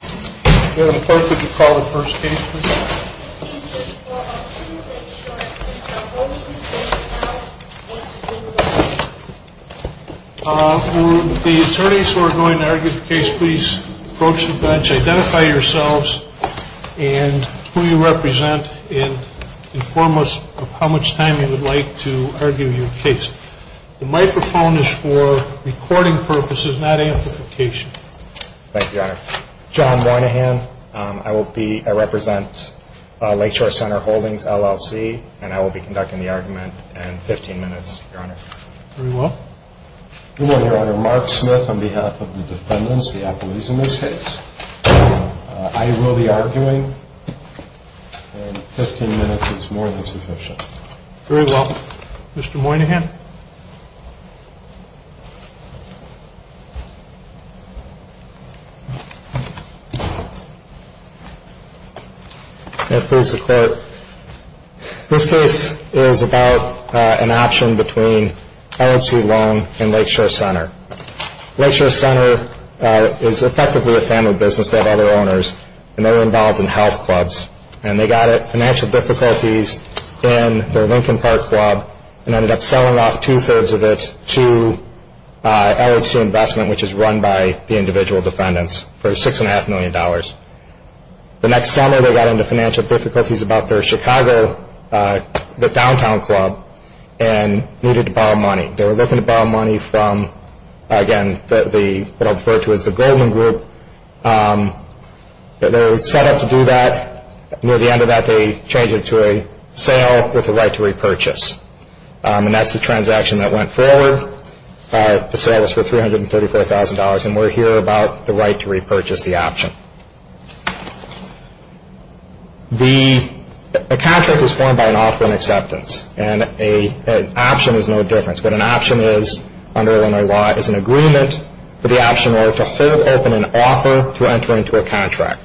The attorneys who are going to argue the case, please approach the bench, identify yourselves, and who you represent, and inform us of how much time you would like to argue your case. The microphone is for recording purposes, not amplification. Thank you, Your Honor. John Moynihan, I represent Lakeshore Centre Holdings, LLC, and I will be conducting the argument in 15 minutes, Your Honor. Very well. Good morning, Your Honor. Mark Smith on behalf of the defendants, the alcoholics in this case. I will be arguing in 15 minutes, if it's more than sufficient. Very well. Mr. Moynihan. Yes, please, Your Honor. This case is about an option between LHC Loan and Lakeshore Centre. Lakeshore Centre is effectively a family business. They have other owners, and they're involved in health clubs, and they got financial difficulties in the Lincoln Park Club and ended up selling off two-thirds of it to LHC Investment, which is run by the individual defendants, for $6.5 million. The next summer, they got into financial difficulties about their Chicago Downtown Club and needed to borrow money. They were looking to borrow money from, again, what I'll refer to as the Goldman Group. They set out to do that. Near the end of that, they changed it to a sale with the right to repurchase. And that's the transaction that went forward. The sale was for $334,000, and we're here about the right to repurchase the option. The contract is formed by an offer and acceptance, and an option is no different. But an option is, under Illinois law, is an agreement for the option owner to hold open an offer to enter into a contract.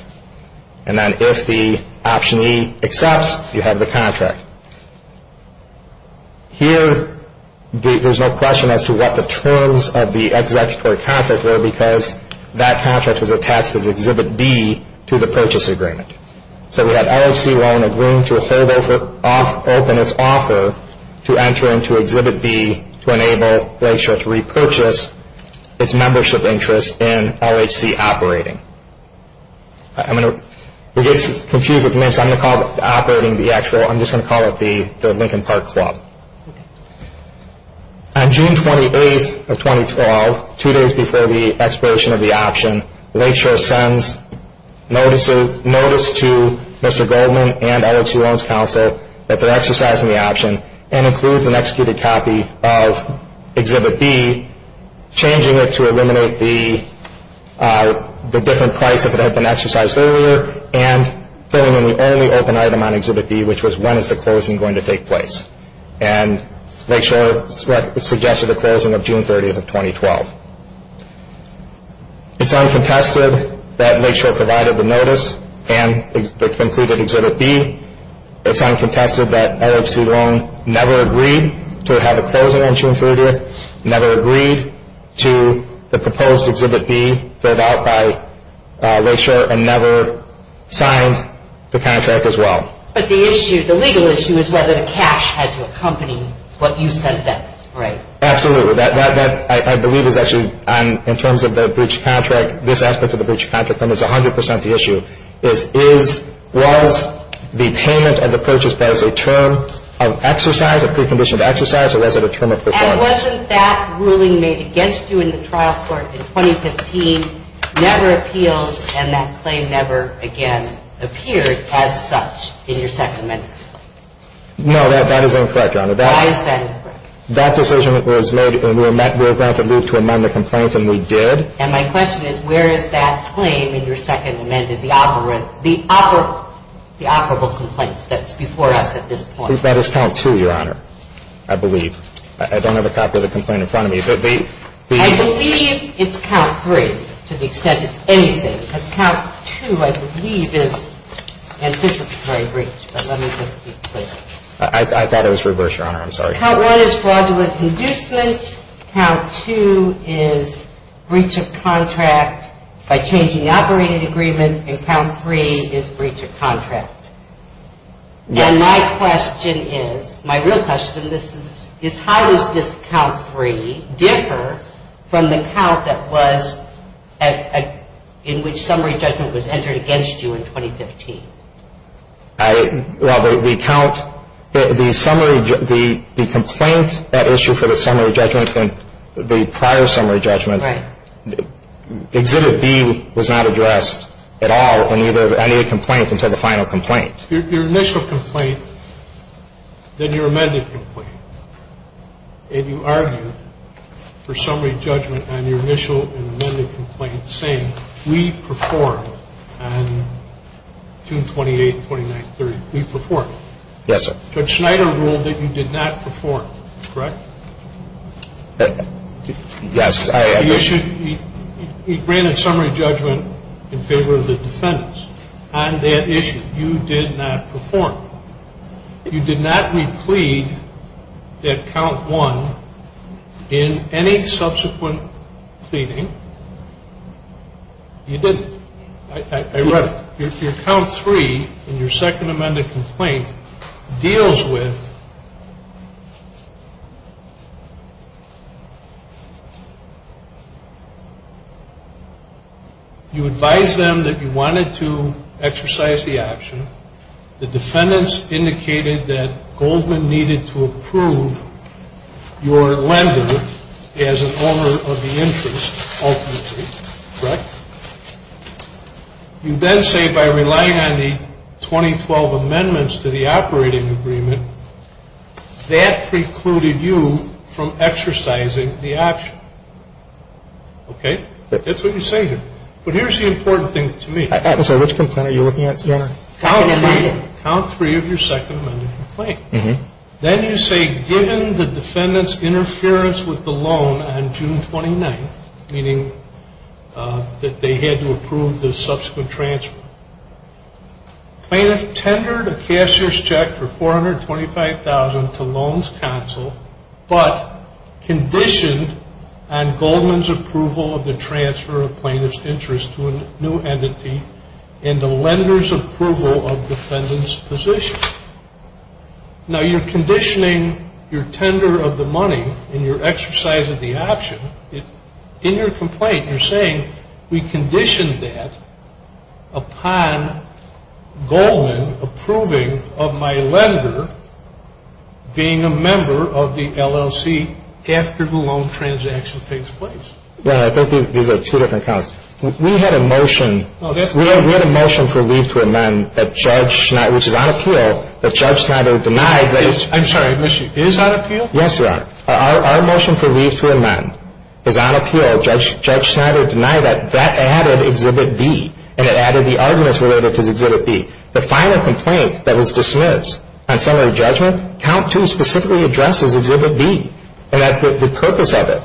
And then if the optionee accepts, you have the contract. Here, there's no question as to what the terms of the executive contract were, because that contract was attached with Exhibit B to the purchase agreement. So we had LHC loan agreeing to open its offer to enter into Exhibit B to enable Glacier to repurchase its membership interest in LHC operating. I'm going to get confused with this. I'm going to call it operating the actual. I'm just going to call it the Lincoln Park Club. On June 28th of 2012, two days before the expiration of the option, Glacier sends notice to Mr. Goldman and LHC Loans Counselor that they're exercising the option and includes an executed copy of Exhibit B, changing it to eliminate the different price that had been exercised earlier, and filling in the only open item on Exhibit B, which was when is the closing going to take place. And Glacier suggested a closing of June 30th of 2012. It's uncontested that Glacier provided the notice and included Exhibit B. It's uncontested that LHC Loans never agreed to have a closing on June 30th, never agreed to the proposed Exhibit B filled out by Glacier, and never signed the contract as well. But the legal issue is whether the cash had to accompany what you said that price. Absolutely. That, I believe, is actually in terms of the breached contract. This aspect of the breached contract is 100% the issue. It is, was the payment of the purchase price a term of exercise, a precondition of exercise, or was it a term of possession? And wasn't that ruling made against you in the trial court in 2015 never appealed, and that claim never again appears as such in your Second Amendment? No, that is incorrect, Your Honor. Why is that incorrect? That decision was made and we were granted leave to amend the complaint, and we did. And my question is, where is that claim in your Second Amendment, the operable complaint that's before us at this point? I think that is count two, Your Honor, I believe. I don't have a copy of the complaint in front of me. I believe it's count three, to the extent it's anything. Because count two, I believe, is an official breach, but let me just be clear. I thought it was reversed, Your Honor. I'm sorry. So count one is fraudulent inducement, count two is breach of contract by changing operating agreement, and count three is breach of contract. Now, my question is, my real question is, how does this count three differ from the count that was in which summary judgment was entered against you in 2015? Well, the count, the summary, the complaint that issued for the summary judgment and the prior summary judgment, Exhibit B was not addressed at all in either of any of the complaints until the final complaint. Your initial complaint, then your amended complaint. And you argued for summary judgment on your initial and amended complaint, saying, we performed on June 28th, 29th, 30th, we performed. Yes, sir. Judge Schneider ruled that you did not perform, correct? Yes, I did. He granted summary judgment in favor of the defendants on that issue. You did not perform. You did not re-plead at count one in any subsequent pleading. You didn't. I read it. Your count three in your second amended complaint deals with... You advised them that you wanted to exercise the option. The defendants indicated that Goldman needed to approve your lender as an owner of the interest ultimately, correct? You then say by relying on the 2012 amendments to the operating agreement, that precluded you from exercising the option. Okay? That's what you say here. But here's the important thing to me. I'm sorry, which complaint are you looking at, sir? Count three of your second amended complaint. Then you say, given the defendants' interference with the loan on June 29th, meaning that they had to approve the subsequent transfer, plaintiff tendered a cashier's check for $425,000 to Loans Counsel, but conditioned on Goldman's approval of the transfer of plaintiff's interest to a new entity and the lender's approval of defendant's position. Now, you're conditioning your tender of the money in your exercise of the option. In your complaint, you're saying we conditioned that upon Goldman approving of my lender being a member of the LLC after the loan transaction takes place. Yeah, I think these are two different counts. We had a motion for leave to amend that Judge Schneider denied. I'm sorry, she is out of appeal? Yes, you are. Our motion for leave to amend is out of appeal. Judge Schneider denied that. That added Exhibit B, and it added the arguments related to Exhibit B. The final complaint that was dismissed on summary judgment, count two specifically addresses Exhibit B and the purpose of it.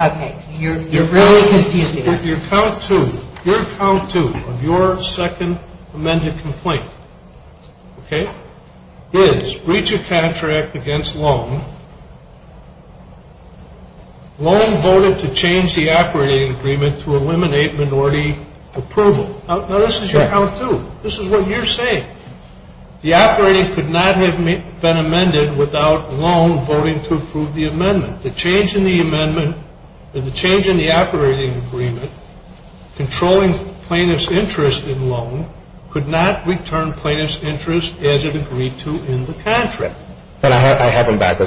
Okay. Your count two of your second amended complaint is breach of contract against loan. Loan voted to change the operating agreement to eliminate minority approval. Now, this is your count two. This is what you're saying. The operating could not have been amended without loan voting to approve the amendment. The change in the amendment, the change in the operating agreement, controlling plaintiff's interest in loan, could not return plaintiff's interest as it agreed to in the contract. But I have them back. You're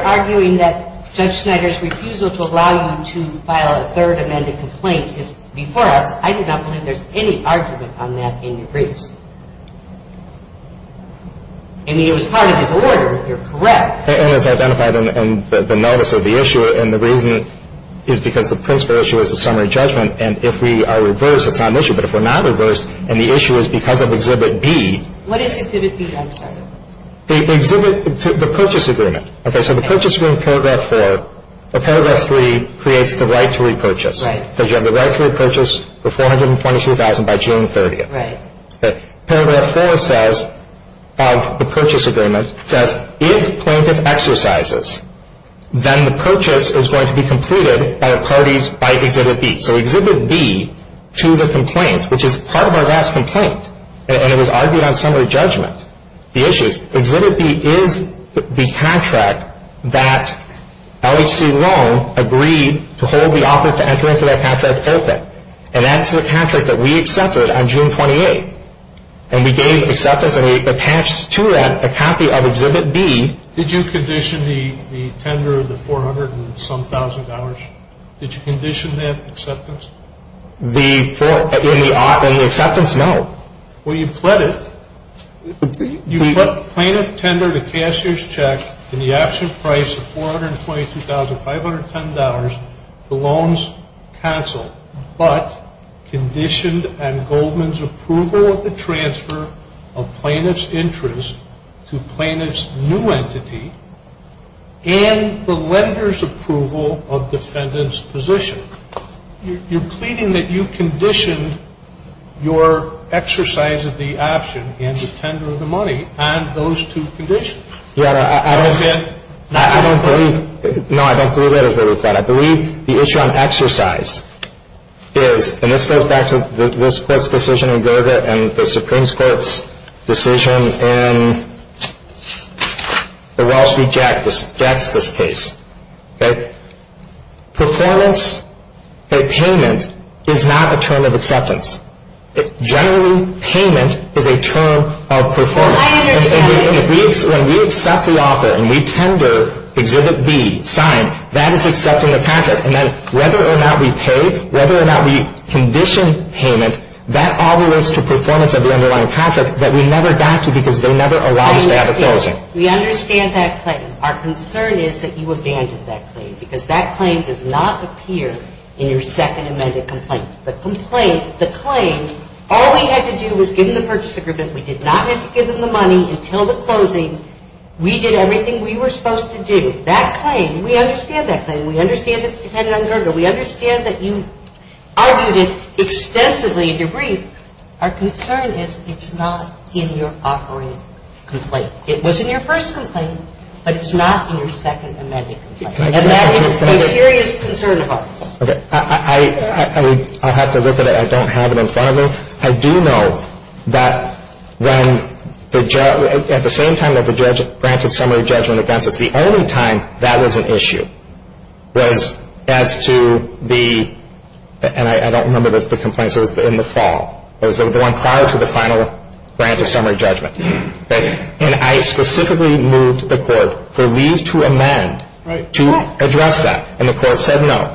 arguing that Judge Schneider's refusal to allow you to file a third amended complaint is before. I do not believe there's any argument on that in your briefs. I mean, it was part of the order. You're correct. It was identified in the notice of the issue, and the reason is because the principal issue is the summary judgment, and if we are reversed, a common issue. But if we're not reversed, and the issue is because of Exhibit B. What is Exhibit B, I'm sorry? The purchase agreement. Okay, so the purchase agreement of Paragraph 4, or Paragraph 3, creates the right to repurchase. So you have the right to repurchase for $422,000 by June 30th. Paragraph 4 says, of the purchase agreement, says, if plaintiff exercises, then the purchase is going to be completed by parties by Exhibit B. So Exhibit B, to the complaint, which is part of our last complaint, and it was argued on summary judgment, the issue, Exhibit B is the contract that L.H.C. Long agreed to hold the offer to enter into that contract open, and that's the contract that we accepted on June 28th, and we gave the acceptance, and we attached to that a copy of Exhibit B. Did you condition the tender of the $400,000 and some thousand dollars? Did you condition that acceptance? In the offer, the acceptance, no. Well, you pled it. You took plaintiff's tender, the cashier's check, and the actual price of $422,510, the loans canceled, but conditioned on Goldman's approval of the transfer of plaintiff's interest to plaintiff's new entity and the lender's approval of defendant's position. You're pleading that you condition your exercise of the action in the tender of the money, and those two conditions. Yeah, I don't believe that. I believe the issue on exercise is, and this goes back to the Willis-Clerk's decision in Gerda and the Supreme Court's decision in the Ross v. Jackson case. Performance or payment is not a term of acceptance. Generally, payment is a term of performance. When we accept the offer and we tender Exhibit B, signed, that is accepting the contract. And then whether or not we paid, whether or not we conditioned payment, that all relates to performance of the underlying contract that we never got to because they never allowed us to have the closing. We understand that, but our concern is that you were damned in that claim because that claim does not appear in your second amended complaint. The claim, all we had to do was give them the purchase agreement. We did not have to give them the money until the closing. We did everything we were supposed to do. That claim, we understand that claim. We understand that it depended on Gerda. We understand that you argued it extensively in your brief. Our concern is it's not in your offering complaint. It was in your first complaint, but it's not in your second amended complaint. And that is a serious concern of ours. I'll have to look at it. I don't have it in front of me. I do know that at the same time that the branch of summary judgment advances, the only time that was an issue was as to the, and I don't remember this, this is in the fall. It was the one prior to the final branch of summary judgment. And I specifically moved the court for leave to amend to address that, and the court said no.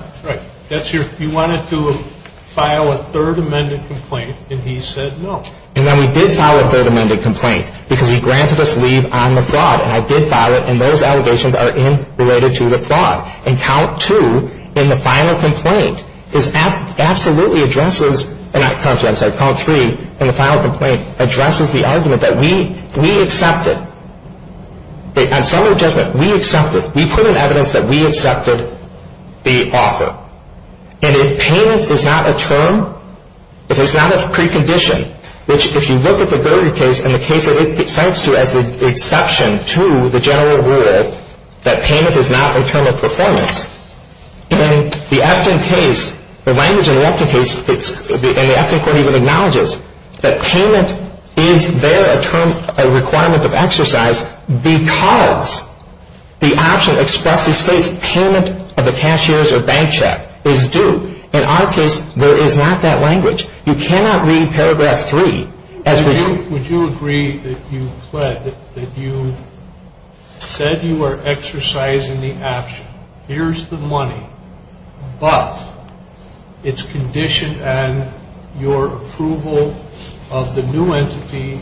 You wanted to file a third amended complaint, and he said no. And then we did file a third amended complaint because he granted us leave on the fraud, and I did file it, and those allegations are in related to the fraud. And count two in the final complaint absolutely addresses, count three in the final complaint addresses the argument that we accepted. On summary judgment, we accepted. We put in evidence that we accepted the offer. And if payment is not a term, if it's not a precondition, which if you look at the Gurdon case and the case that it stands to as an exception to the general rule, that payment is not a term of performance, then the action case, the language in the action case, and the action court even acknowledges that payment is there a term, a requirement of exercise because the action expressly states payment of the cashier's or bank check is due. In our case, there is not that language. You cannot read paragraph three as we do. Would you agree that you said you were exercising the action? Here's the money, but it's conditioned on your approval of the new entity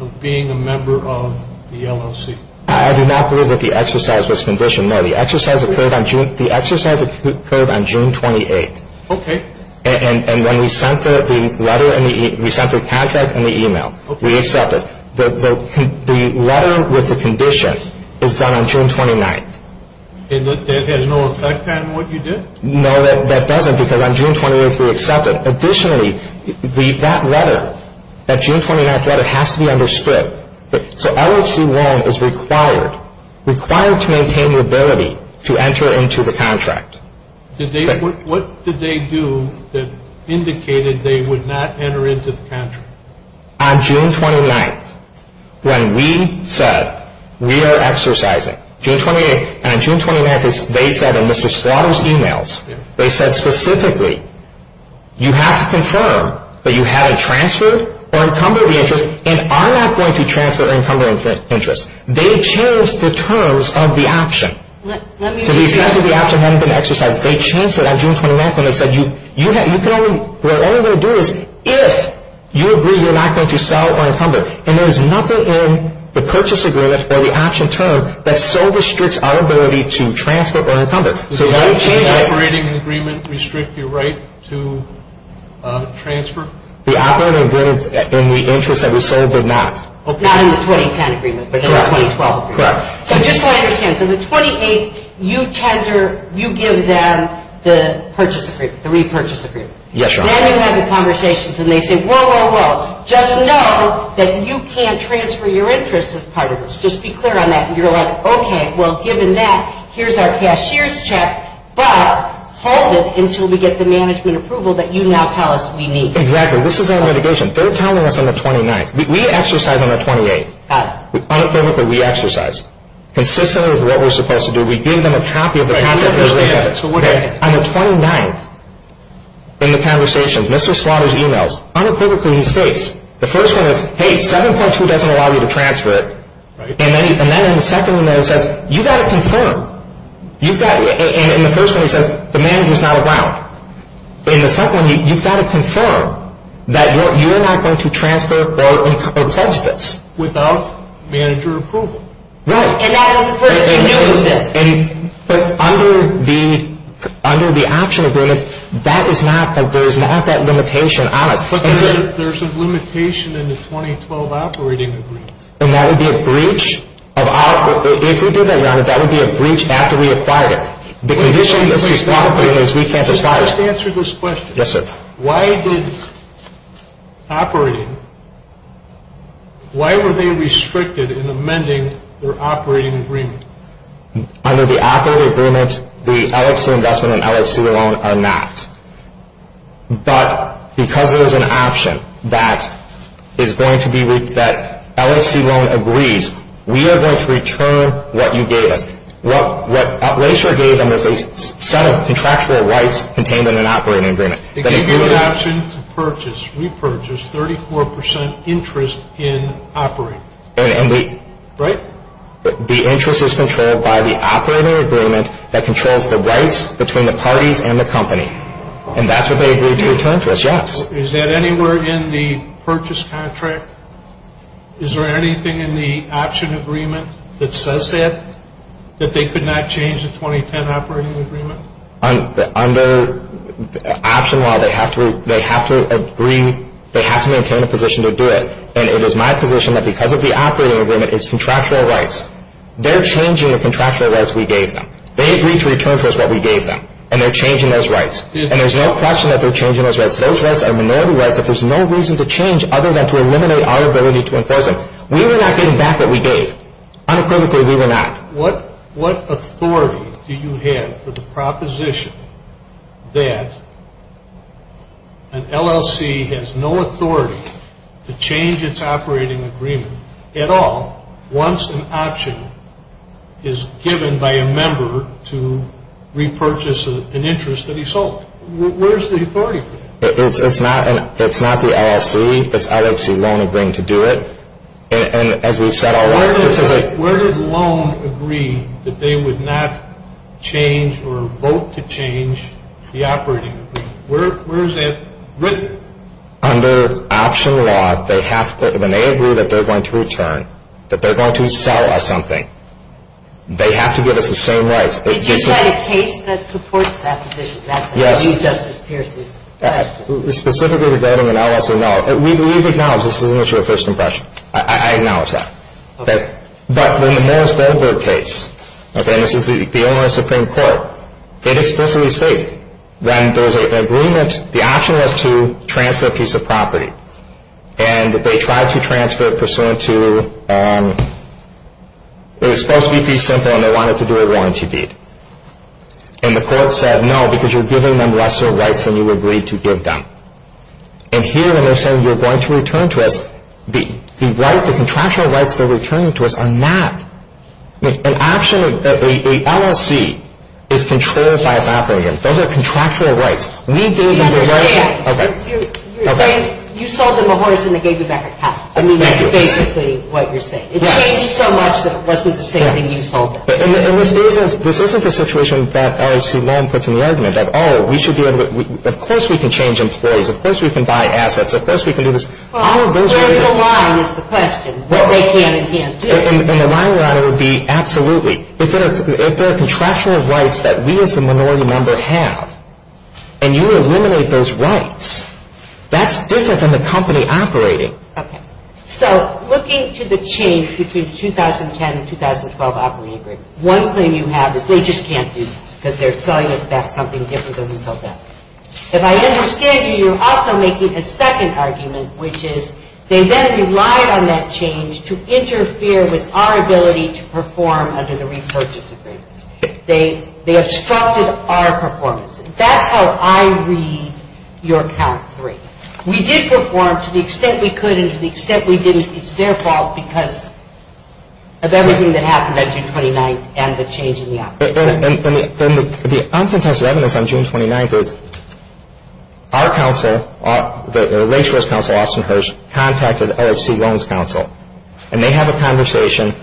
of being a member of the LLC? I do not believe that the exercise was conditioned. No, the exercise occurred on June 28th. Okay. And when we sent the letter and we sent the contact and the e-mail, the letter with the condition is done on June 29th. It has no effect on what you did? No, that doesn't because on June 28th we accept it. Additionally, that letter, that June 29th letter has to be understood. So LLC1 is required to maintain the ability to enter into the contract. What did they do that indicated they would not enter into the contract? On June 29th, when we said we are exercising, June 28th and June 29th, they sent themselves e-mails. They said specifically, you have to confirm that you haven't transferred or encumbered the interest and are not going to transfer or encumber interest. They changed the terms of the action. They changed it on June 29th when they said, you can only do it if you agree you're not going to sell or encumber. And there is nothing in the purchase agreement or the action term that so restricts our ability to transfer or encumber. Did they change the operating agreement to restrict your right to transfer? The operating agreement in the interest that we sold did not. Not in the 2010 agreement, but in the 2012 agreement. I just don't understand. So the 28th, you give them the purchase agreement, the repurchase agreement. Yes, Your Honor. They don't have the conversations. And they say, whoa, whoa, whoa. Just know that you can't transfer your interest as part of this. Just be clear on that. And you're like, okay, well, given that, here's our cashier's check. But hold it until we get the management approval that you now tell us we need. Exactly. This is our negotiation. Third time we work on the 29th. We exercise on the 28th. Unequivocally, we exercise. Consistent with what we're supposed to do. We give them a copy of the purchase agreement. And on the 29th, in the conversations, Mr. Slaughter's e-mails, unequivocally, he states, the first one is, hey, 7-plus-2 doesn't allow you to transfer it. And then the second one says, you've got to confirm. And the first one says, the manager's not around. And the second one, you've got to confirm that you're not going to transfer without manager approval. Right. But under the actual agreement, that is not, there is not that limitation on it. But there's a limitation in the 2012 operating agreement. And that would be a breach of our, if we did that, that would be a breach after we acquired it. The condition Mr. Slaughter is we can't discuss. Let me answer this question. Yes, sir. Why did operating, why were they restricted in amending their operating agreement? Under the operating agreement, the LLC investment and LLC loan are not. But because there is an option that is going to be, that LLC loan agrees, we are going to return what you gave us. Well, what Operation did was set up contractual rights contained in an operating agreement. They gave you an option to purchase. We purchased 34% interest in operating. And the interest is controlled by the operating agreement that controls the rights between the party and the company. And that's what they agreed to return to us. Yes. Is that anywhere in the purchase contract? Is there anything in the option agreement that says that? That they could not change the 2010 operating agreement? Under the option law, they have to agree, they have to maintain a position to do it. And it is my position that because of the operating agreement, it's contractual rights. They're changing the contractual rights we gave them. They agreed to return to us what we gave them. And they're changing those rights. And there's no question that they're changing those rights. Those rights are minority rights, but there's no reason to change other than to eliminate our ability to enforce them. We were not getting back what we gave. Unequivocally, we were not. What authority do you have for the proposition that an LLC has no authority to change its operating agreement at all once an option is given by a member to repurchase an interest that he sold? Where's the authority? It's not the LLC. It's LLC won't agree to do it. And as we've said already. Where does a loan agree that they would not change or vote to change the operating agreement? Where is that written? Under option law, they have to, when they agree that they're going to return, that they're going to sell us something, they have to give us the same rights. It's just a case that supports that position. Yes. It's just a case. Specifically, is that an LLC or not? We believe it's not. This isn't your first impression. I acknowledge that. But in the Morris Bedford case, and this was the only Supreme Court, it explicitly stated when there was an agreement, the option was to transfer a piece of property. And they tried to transfer it pursuant to, it was supposed to be pretty simple, and they wanted to do it once, indeed. And the court said, no, because you're giving them lesser rights than you agreed to give them. And here, when they're saying you're going to return to us, the rights, the contractual rights they're returning to us are not. An LLC is control-side operating. Those are contractual rights. We gave them the rights. You sold them a horse and they gave you back a cow. I mean, that's basically what you're saying. It changed so much that it wasn't the same thing you sold them. And the thing is, this isn't the situation that LAC 1 puts in the argument that, oh, we should be able, of course we can change employees. Of course we can buy assets. Of course we can do this. I don't think that's the question. What they can and can't do. And the line-runner would be, absolutely. If there are contractual rights that we as the minority members have, and you eliminate those rights, that's different than the company operating. Okay. So, looking to the change between 2010 and 2012 operating agreement, one thing you have is they just can't do it If I understand you, you're also making a second argument, which is, they then rely on that change to interfere with our ability to perform under the re-purchase agreement. They obstructed our performance. That's how I read your account. We did perform to the extent we could and to the extent we didn't. It's their fault because of everything that happened on June 29th and the change in the operating agreement. The uncontested evidence on June 29th is, our counsel, the ratio's counsel, Austin Hirsch, contacted LHC Loans Counsel, and they have a conversation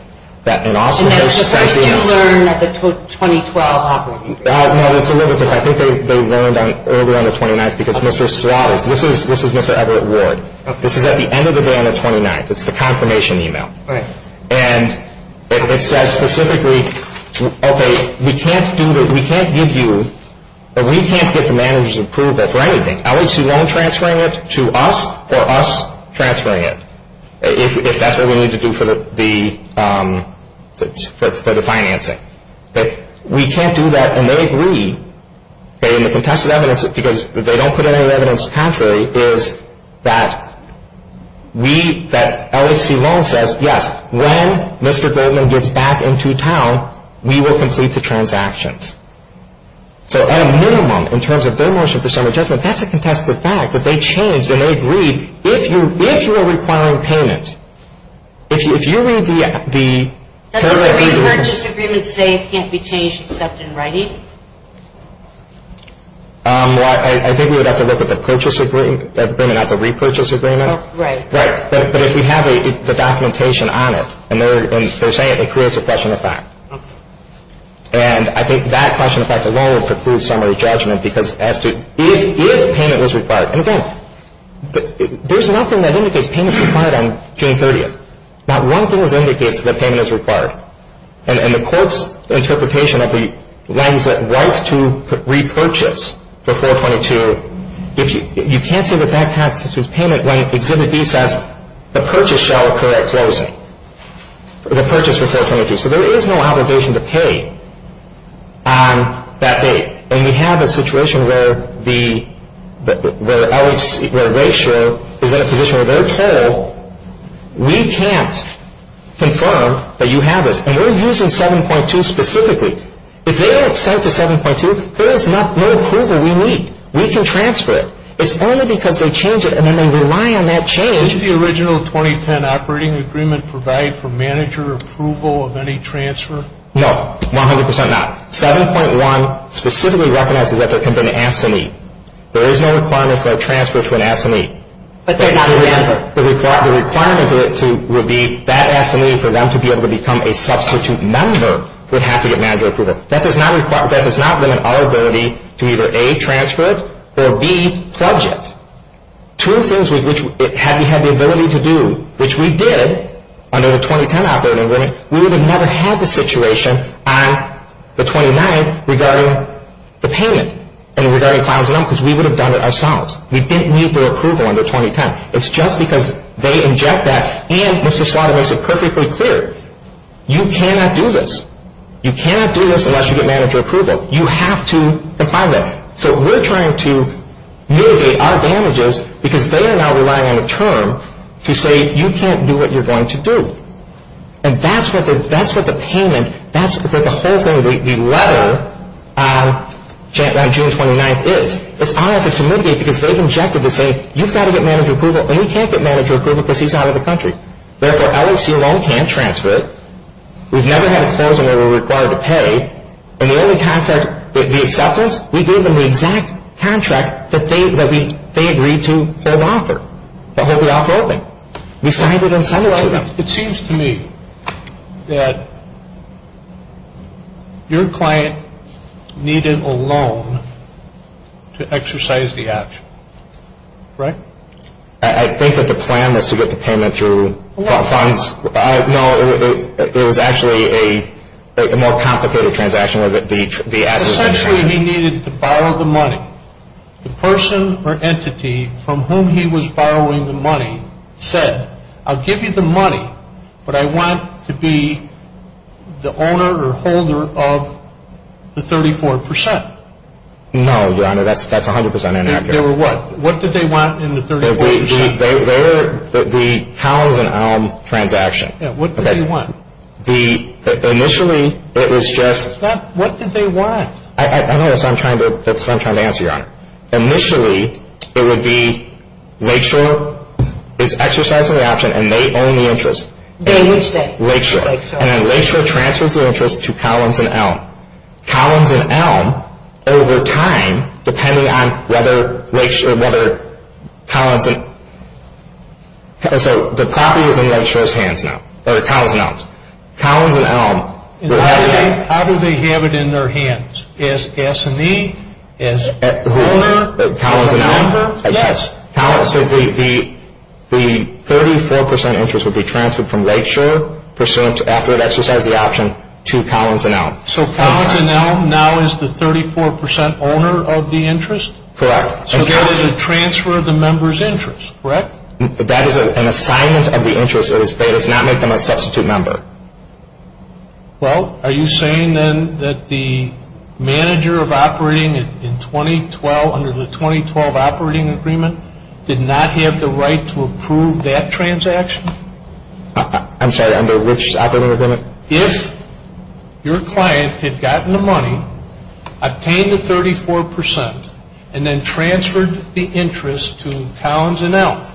that in Austin... And that's just what you learned at the 2012 operating agreement. No, it's a little bit different. I think they learned earlier on the 29th because Mr. Slott, this is Mr. Everett Ward. This is at the end of the day on the 29th. It's the confirmation email. Right. And it says specifically, okay, we can't give you or we can't get the managers to approve that for anything. LHC Loans transferring it to us or us transferring it, if that's what we need to do for the financing. We can't do that. And they agree that in the contested evidence, because they don't put any evidence contrary, is that we, that LHC Loans says, yes, when Mr. Goldman gets back into town, we will complete the transactions. So at a minimum, in terms of their motion for some adjustment, that's a contested fact that they changed and they agreed. If you are requiring payments, if you read the... Mr. Greenberg, Mr. Greenberg is saying it can't be changed to something, right? Well, I think we would have to look at the purchase agreement, not the repurchase agreement. Right. Right. But if you have the documentation on it and they're saying it, it creates a question of fact. And I think that question of fact alone is to prove summary judgment because it has to... Even if payment is required, there's nothing that indicates payment is required on June 30th. Not one thing that indicates that payment is required. And the court's interpretation of the language that rights to repurchase before 22, you can't say that that type of payment when it's in the defense, the purchase shall occur at closing. The purchase shall occur at closing. So there is no obligation to pay that date. And we have a situation where the LHC, where ratio is in a position where those fail, we can't confirm that you have it. And we're using 7.2 specifically. If they don't accept the 7.2, there is no approval we need. We can transfer it. It's only because they change it and then we rely on that change. Did the original 2010 operating agreement provide for manager approval of any transfer? No. 100% not. 7.1 specifically recognizes that there has been an absentee. There is no requirement for a transfer to an absentee. But they're not a manager. So we thought the requirement would be that absentee for them to be able to become a substitute member would have to get manager approval. That does not limit our ability to either A, transfer it, or B, project. Two things which we had the ability to do, which we did under the 2010 operating agreement, we would have never had the situation on the 29th regarding the payment and regarding 5.1 because we would have done it ourselves. We didn't need their approval under 2010. It's just because they inject that and Mr. Swano makes it perfectly clear. You cannot do this. You cannot do this unless you get manager approval. You have to comply with that. So we're trying to mitigate our damages because they are now relying on a term to say you can't do what you're going to do. And that's what the payment, that's what the whole thing, the letter on June 29th is. If I have to mitigate because they've injected the thing, you've got to get manager approval and you can't get manager approval because he's out of the country. Therefore, LSU loan can't transfer it. We've never had a closure where we're required to pay. And the only contract that we accepted, we gave them the exact contract that they agreed to or want for, that they'll be offering. We signed it in some way. It seems to me that your client needed a loan to exercise the action. Correct? I think that the plan was to get the payment through. No, it was actually a more complicated transaction. Essentially, he needed to borrow the money. The person or entity from whom he was borrowing the money said, I'll give you the money, but I want to be the owner or holder of the 34%. No, Your Honor, that's 100% inaccurate. They were what? What did they want in the 34%? They were the pound and ound transaction. Yeah, what did they want? Initially, it was just – What did they want? I know that's what I'm trying to answer, Your Honor. Initially, it would be Lakeshore is exercising the action and they own the interest. What is that? Lakeshore. And then Lakeshore transfers the interest to Collins and Elm. Collins and Elm, over time, depending on whether Lakeshore or whether Collins and – so the property would be in Lakeshore's hands now, or Collins and Elm's. Collins and Elm – How do they have it in their hands? As S&E? As owner? Collins and Elm? Yes. Collins and Elm, the 34% interest would be transferred from Lakeshore, pursuant to after it exercised the action, to Collins and Elm. So Collins and Elm now is the 34% owner of the interest? Correct. So there was a transfer of the member's interest, correct? That is an assignment of the interest that was paid. It's not making them a substitute member. Well, are you saying then that the manager of operating in 2012, under the 2012 operating agreement, did not have the right to approve that transaction? I'm sorry, under which operating agreement? If your client had gotten the money, obtained the 34%, and then transferred the interest to Collins and Elm,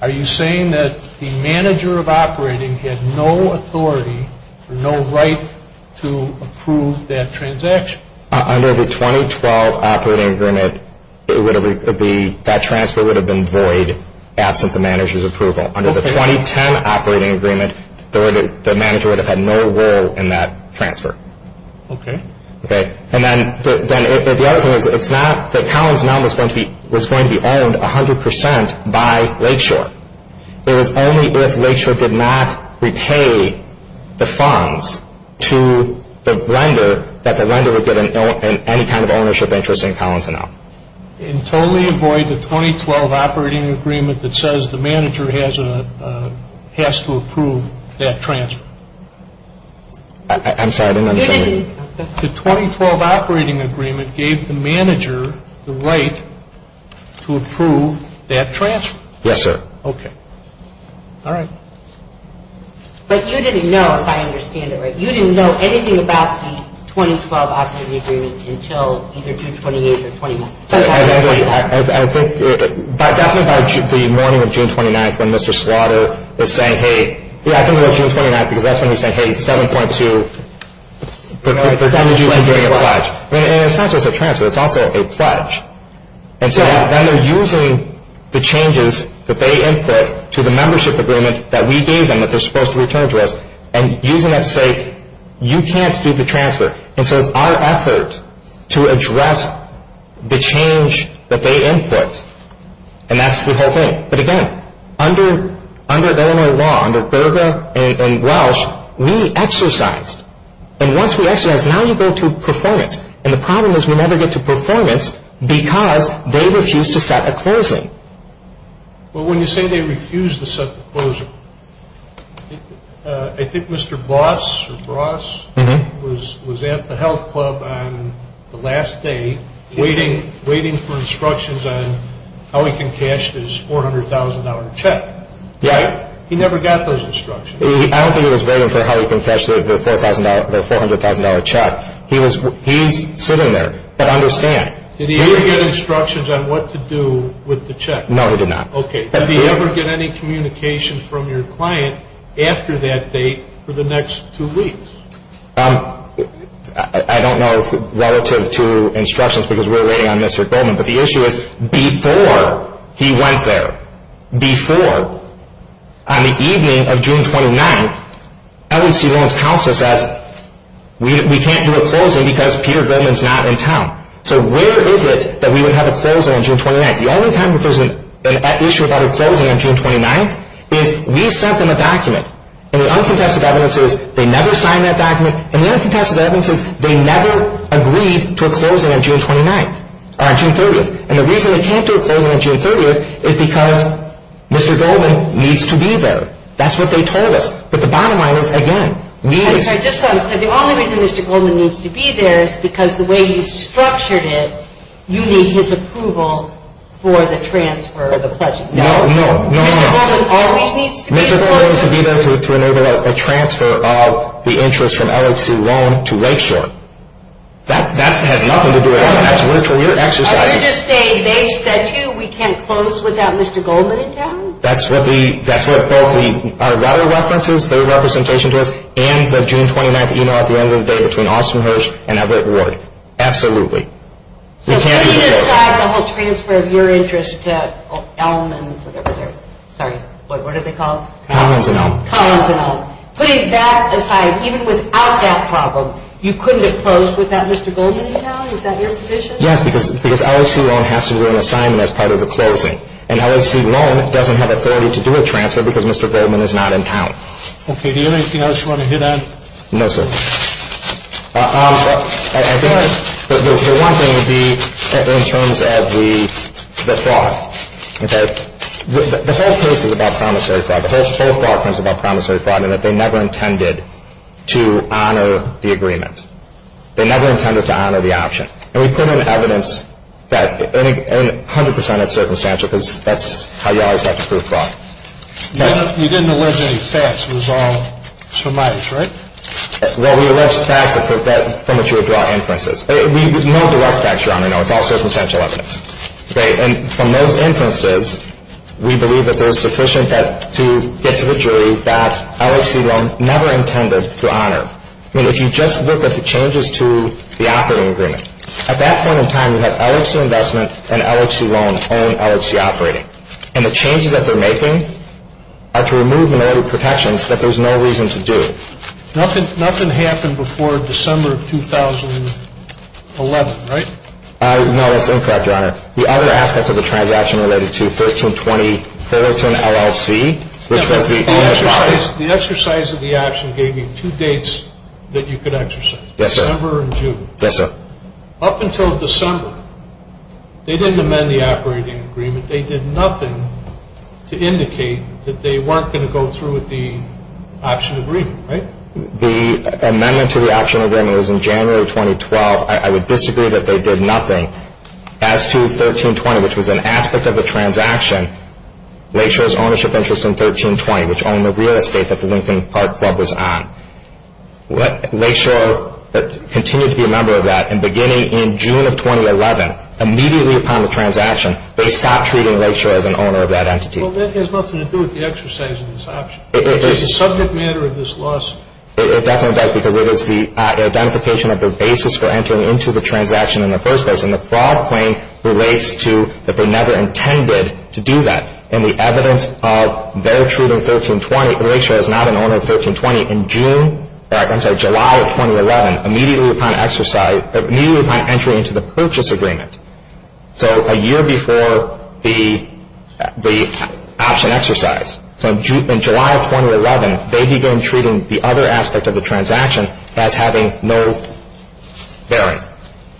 are you saying that the manager of operating had no authority, no right to approve that transaction? Under the 2012 operating agreement, that transfer would have been void, absent the manager's approval. Under the 2010 operating agreement, the manager would have had no role in that transfer. Okay. And then the other thing is that Collins and Elm was going to be owned 100% by Lakeshore. It was only if Lakeshore did not repay the funds to the lender that the lender would get any kind of ownership interest in Collins and Elm. And totally avoid the 2012 operating agreement that says the manager has to approve that transfer. I'm sorry, I didn't understand you. The 2012 operating agreement gave the manager the right to approve that transfer. Yes, sir. Okay. All right. But you didn't know, if I understand it right, you didn't know anything about the 2012 operating agreement until either June 28th or 29th. I think the morning of June 29th when Mr. Slaughter was saying, hey, I think it was June 29th because that's when he was saying, hey, 7.2. They're going to be doing a crutch. And it's not just a transfer. It's also a crutch. And so now they're using the changes that they input to the membership agreement that we gave them that they're supposed to return to us and using that to say, you can't do the transfer. And so it's our effort to address the change that they input. And that's the whole thing. But again, under Illinois law, under Fairbairn and Welsh, we exercised. And once we exercised, now we go to performance. And the problem is we never get to performance because they refuse to set the closing. But when you say they refuse to set the closing, I think Mr. Voss or Voss was at the health club on the last day waiting for instructions on how he can cash this $400,000 check. He never got those instructions. I don't think he was waiting for how he can cash the $400,000 check. He's sitting there. I understand. Did he ever get instructions on what to do with the check? No, he did not. Okay. Did he ever get any communication from your client after that date for the next two weeks? I don't know relative to instructions because we're waiting on Mr. Goldman. But the issue is before he went there, before, on the evening of June 29th, LEC Law's counsel said we can't do a closing because Peter Goldman's not in town. So where is it that we would have a closing on June 29th? The only time there was an issue about a closing on June 29th is we sent them a document. And the unconfessed evidence is they never signed that document. And the unconfessed evidence is they never agreed to a closing on June 30th. And the reason they can't do a closing on June 30th is because Mr. Goldman needs to be there. That's what they told us. But the bottom line is, again, we need to be there. Because the way you structured it, you need his approval for the transfer of the pledges. No, no, no, no. Mr. Goldman always needs to be there. Mr. Goldman needs to be there to enable a transfer of the interest from LEC Loan to Lakeshore. That's not going to do it. I would just say they said, too, we can't close without Mr. Goldman in town. That's what all the other references, the other representation did, and the June 29th e-mail at the end of the day between Austin Hirsch and Everett Ward. Absolutely. We can't do that. So if you decide to hold transfer of your interest to Elm and, sorry, what are they called? Collins and Elm. Collins and Elm. Collins and Elm. Please, that decides, even without that problem, you couldn't have closed without Mr. Goldman in town? Is that your position? Yes, because LEC Loan has to do an assignment as part of the closing. And LEC Loan doesn't have authority to do a transfer because Mr. Goldman is not in town. Okay. Do you have anything else you want to hit on? No, sir. I guess the one thing would be in terms of the fraud. The whole case is about promissory fraud. The whole fraud is about promissory fraud in that they never intended to honor the agreement. They never intended to honor the option. And we put in evidence that 100% is circumstantial because that's how you always have to prove fraud. We didn't deliver any facts. It was all surmise, right? Well, we arrest facts from which you would draw inferences. We have no direct facts, Your Honor. It's all circumstantial evidence. And from those inferences, we believe that there is sufficient to get to the jury that LEC Loan never intended to honor. I mean, if you just look at the changes to the operating agreement. At that point in time, you have LHC Investment and LHC Loan owning LHC Operating. And the changes that they're making are to remove the motive protections that there's no reason to do. Nothing happened before December of 2011, right? No, that's incorrect, Your Honor. The other aspect of the transaction related to 1320 Fullerton LLC, which was the exercise. The exercise of the action gave you two dates that you could exercise, December and June. Yes, sir. Up until December, they didn't amend the operating agreement. They did nothing to indicate that they weren't going to go through with the option agreement, right? The amendment to the option agreement was in January 2012. I would disagree that they did nothing. As to 1320, which was an aspect of the transaction, LHC's ownership interest in 1320, which owned the real estate that the Lincoln Park Club was on. LHC continues to be a member of that. And beginning in June of 2011, immediately upon the transaction, they stopped treating LHC as an owner of that entity. Well, that has nothing to do with the exercise of this option. It's a subject matter of this lawsuit. It definitely does because it is the identification of the basis for entering into the transaction in the first place. And the fraud claim relates to that they never intended to do that. And the evidence of their treating LHC as not an owner of 1320 in July of 2011, immediately upon entry into the purchase agreement. So a year before the option exercise. So in July of 2011, they began treating the other aspect of the transaction as having no bearing.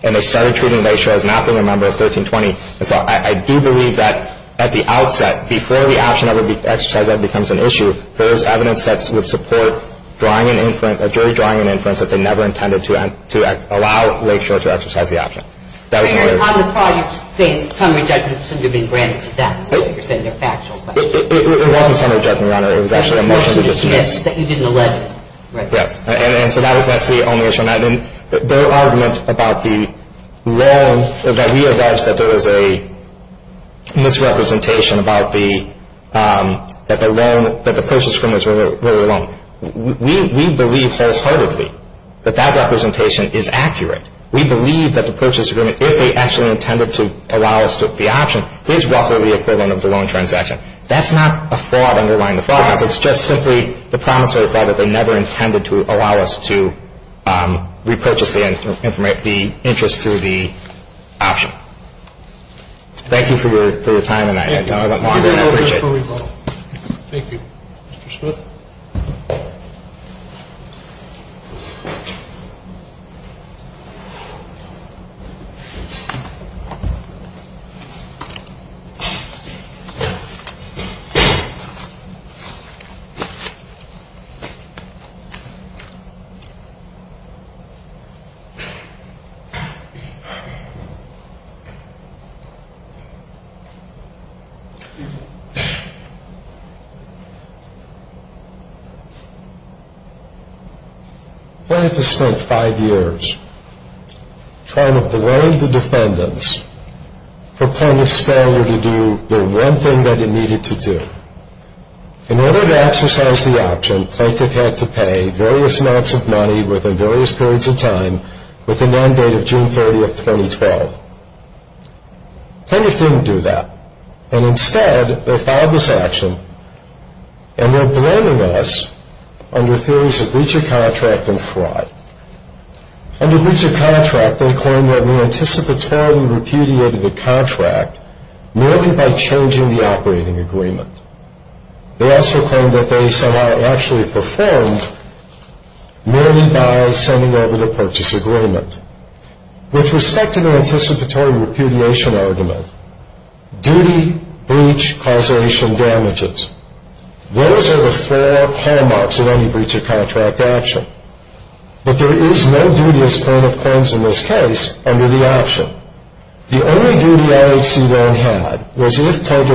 And they started treating LHC as not being a member of 1320. And so I do believe that at the outset, before the action exercise becomes an issue, there is evidence that would support drawing an inference, a jury drawing an inference, that they never intended to allow LHC to exercise the option. I recall you saying primary judgment should have been granted to them. It was not a primary judgment, Your Honor. It was actually a motion to dismiss. That you did not let them. And so that was actually only a motion. There are arguments that realize that there was a misrepresentation that the purchase agreements were wrong. We believe falsehoodedly that that representation is accurate. We believe that the purchase agreement, if they actually intended to allow us to have the option, did not really occur in the loan transaction. That's not a fraud underlying the fraud. It's just simply the commentary that they never intended to allow us to repurchase the interest through the option. Thank you for your time tonight. Thank you. Thank you. Mr. Schmidt. Plaintiff spent five years trying to blame the defendants for promising they would do the one thing that they needed to do. In order to exercise the option, plaintiff had to pay various amounts of money within various periods of time within the end date of June 30, 2012. Plaintiff didn't do that. And instead, they filed this action, and they're blaming us under theories of breach of contract and fraud. Under breach of contract, they claim that we anticipatorily repudiated the contract, merely by changing the operating agreement. They also claim that they somehow actually performed, merely by sending over the purchase agreement. With respect to the anticipatory repudiation argument, duty, breach, causation, damages, those are the four hallmarks of any breach of contract action. But there is no duty as a claim of claims in this case under the option. The only duty LAC loan had was if, I do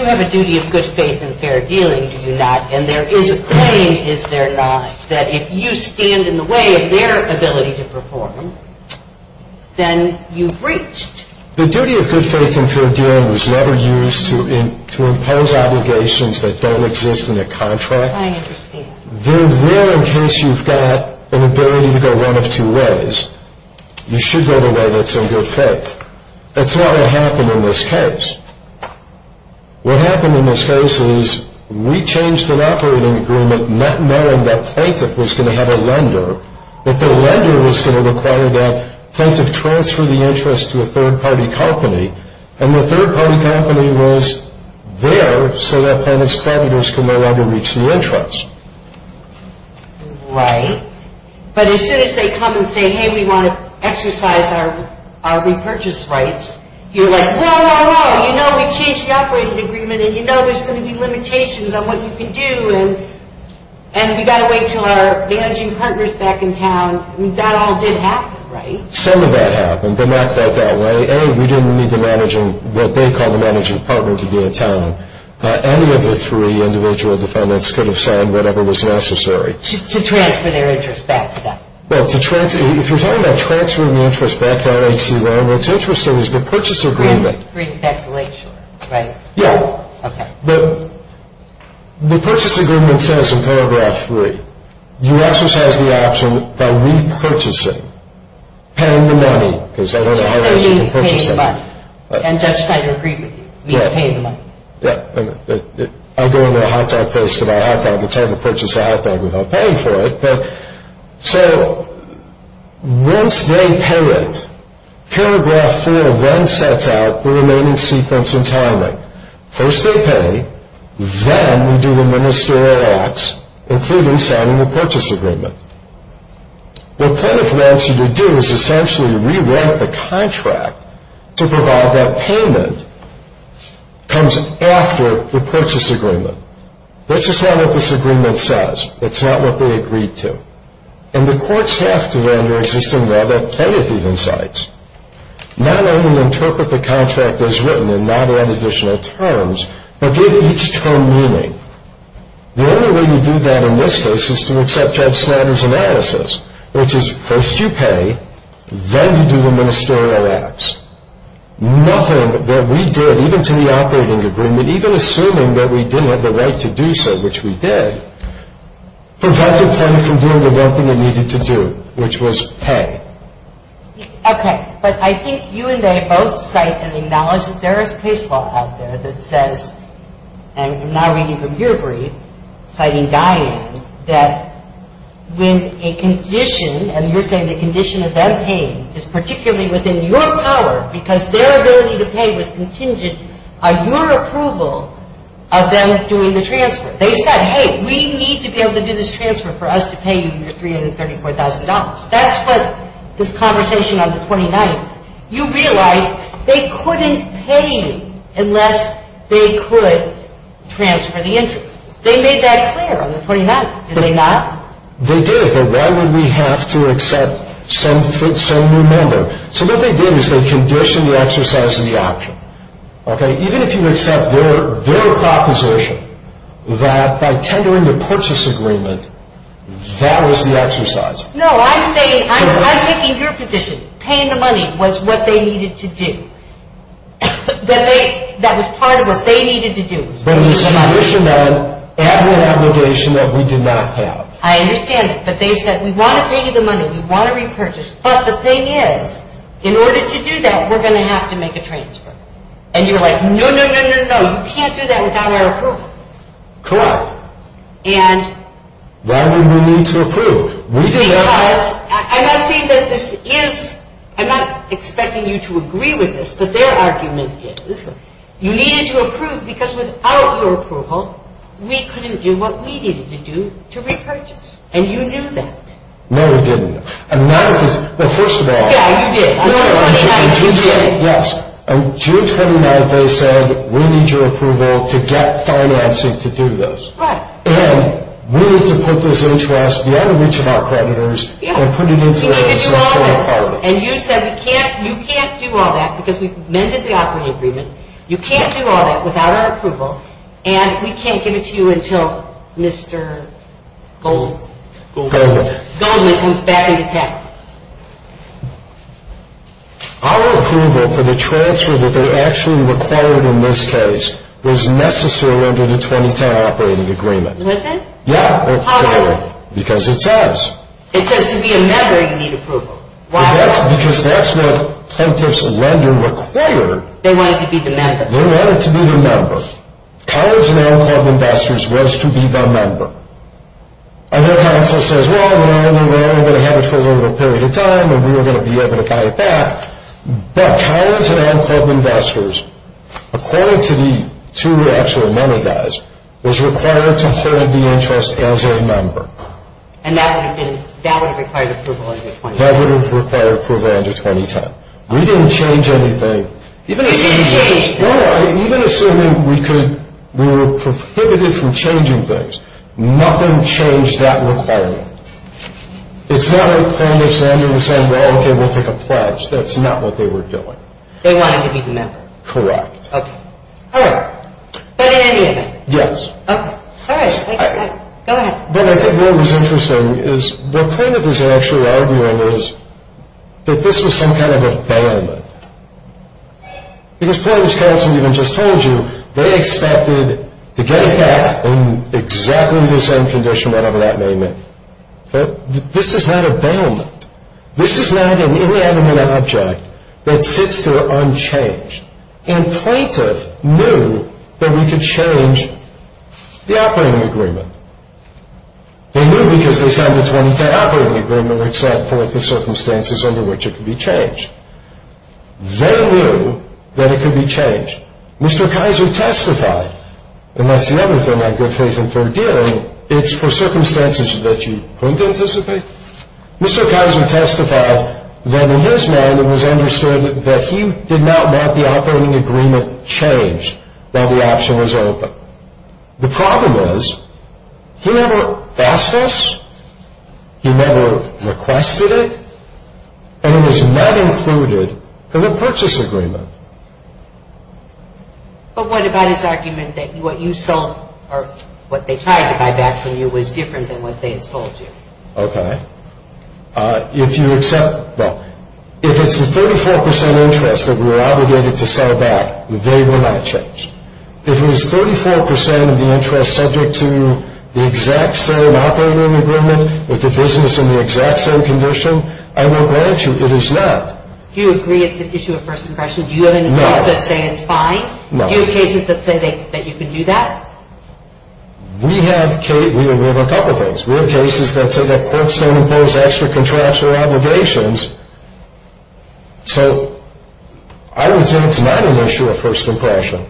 have a duty of good faith and fair dealing to do that, and there is a claim, is there not, that if you stand in the way of their ability to perform, then you've breached. The duty of good faith and fair dealing was never used to impose obligations that don't exist in the contract. I understand. Then, well, in case you've got an ability to go one of two ways, you should go the way that's in good faith. That's not what happened in this case. What happened in this case is we changed an operating agreement, not knowing that Plankett was going to have a lender, but the lender was going to require that Plankett transfer the interest to a third-party company, and the third-party company was there so that Plankett's patent was no longer reaching the interest. Right. But as soon as they come and say, hey, we want to exercise our repurchase rights, you're like, no, no, no, you know we changed that operating agreement, and you know there's going to be limitations on what you can do, and we've got to wait until our managing partner's back in town. That all did happen, right? Some of that happened, but not quite that way. A, we didn't need the managing, what they called the managing partner to be in town. Any of the three individual defendants could have signed whatever was necessary. To transfer their interest back, yeah. Well, to transfer, if you're talking about transferring the interest back to L.A.T. Law, what's interesting is the purchase agreement. Free speculation, right? Yeah. Okay. The purchase agreement says in paragraph three, you also have the option by repurchasing, paying the money, because they don't know how they're going to repurchase it. And you can pay the money. And just like a repurchase, you're paying the money. I'll go into a hot dog place, but I'll have to have the time to purchase a hot dog without paying for it. So, once they pay it, paragraph four then sets out the remaining sequence of timing. First they pay, then we do the ministerial acts, including signing the purchase agreement. The plaintiff wants you to do is essentially rewrite the contract to provide that payment comes after the purchase agreement. This is not what this agreement says. It's not what they agreed to. And the courts have to then resist and rather edit these insights. Not only interpret the contract as written and not on additional terms, but give it each term meaning. The only way we do that in this case is to accept our standards analysis, which is first you pay, then you do the ministerial acts. Nothing that we did, even to the operating agreement, even assuming that we didn't have the right to do so, which we did, prevented them from doing the one thing they needed to do, which was pay. Okay. But I think you and I both cite an analogy. There is a case law out there that says, and I'm now reading from your brief, citing dying, that when a condition, and you're saying the condition of them paying is particularly within your power because their ability to pay was contingent on your approval of them doing the transfer. They said, hey, we need to be able to do this transfer for us to pay you the $334,000. That's what this conversation on the 29th. You realize they couldn't pay you unless they could transfer the interest. They made that clear on the 29th. Did they not? They did. But why would we have to accept some new number? So what they did is they conditioned the exercise of the option. Okay. Even if you accept their proposition that by tendering the purchase agreement, that was the exercise. No, I'm saying, I'm taking your position. Paying the money was what they needed to do. That was part of what they needed to do. But it was conditioned on an obligation that we did not have. I understand it. But they said, we want to pay you the money. We want to repurchase. But the thing is, in order to do that, we're going to have to make a transfer. And you're like, no, no, no, no, no. You can't do that without our approval. Correct. Why did we need to approve? I'm not expecting you to agree with this, but their argument is you needed to approve because without your approval, we couldn't do what we needed to do to repurchase. And you knew that. No, we didn't. I mean, that was the first of all. Yeah, you did. Yes. And you're trying to make them say, we need your approval to get financing to do this. Right. And we need to put this interest, we have to reach out to our partners and put it into their hands. You can't do all that. And you said, you can't do all that because we amended the operating agreement. You can't do all that without our approval, and we can't give it to you until Mr. Goldman Goldman. Goldman is back in the cap. Our approval for the transfer that they actually required in this case was necessary under the 2010 operating agreement. Was it? Yeah. How come? Because it says. It says to be a member, you need approval. Why? Because that's what 10-person lending required. They wanted to be the member. They wanted to be the member. College of Land and Health Investors wants to be the member. And their contract says, well, we're only going to have approval for a period of time, and we're going to be able to get it back. But College of Land and Health Investors, according to the two actual member guys, was required to hold the interest as a member. And that would have required approval under 2010. That would have required approval under 2010. We didn't change anything. Even if we changed. Nothing changed that requirement. It's not like they're saying, well, okay, we'll take a pledge. That's not what they were doing. They wanted to be the member. Correct. Okay. All right. Are they agreeing? Yes. Okay. All right. That's fine. Go ahead. What I think is interesting is, the point of this is actually arguing is that this is some kind of a ban. Because point of this comes from what I just told you. They expected to get it back in exactly the same condition whatever that may mean. But this is not a ban. This is not a really adamant object that fits their own change. And plaintiffs knew that we could change the operating agreement. They knew because they had this one fair operating agreement except for the circumstances under which it could be changed. They knew that it could be changed. Mr. Kaiser testified. And that's the other thing I've been thinking through doing. It's for circumstances that you couldn't anticipate. Mr. Kaiser testified that in his mind it was understood that he did not want the operating agreement changed while the option was open. The problem is, he never asked us, he never requested it, and it was not included in the purchase agreement. But what about a document that what you sell or what they tried to buy back from you was different than what they had told you? Okay. If you accept, well, if it's a 34% interest that we're obligated to sell back, they will not change. If it's 34% of the interest subject to the exact same operating agreement with the business in the exact same condition, I will grant you it is not. Do you agree it's an issue of first impression? No. Do you have a case that says it's fine? No. Do you have cases that say that you can do that? We have cases that say that courts don't impose extra contractual obligations. So I would say it's not an issue of first impression.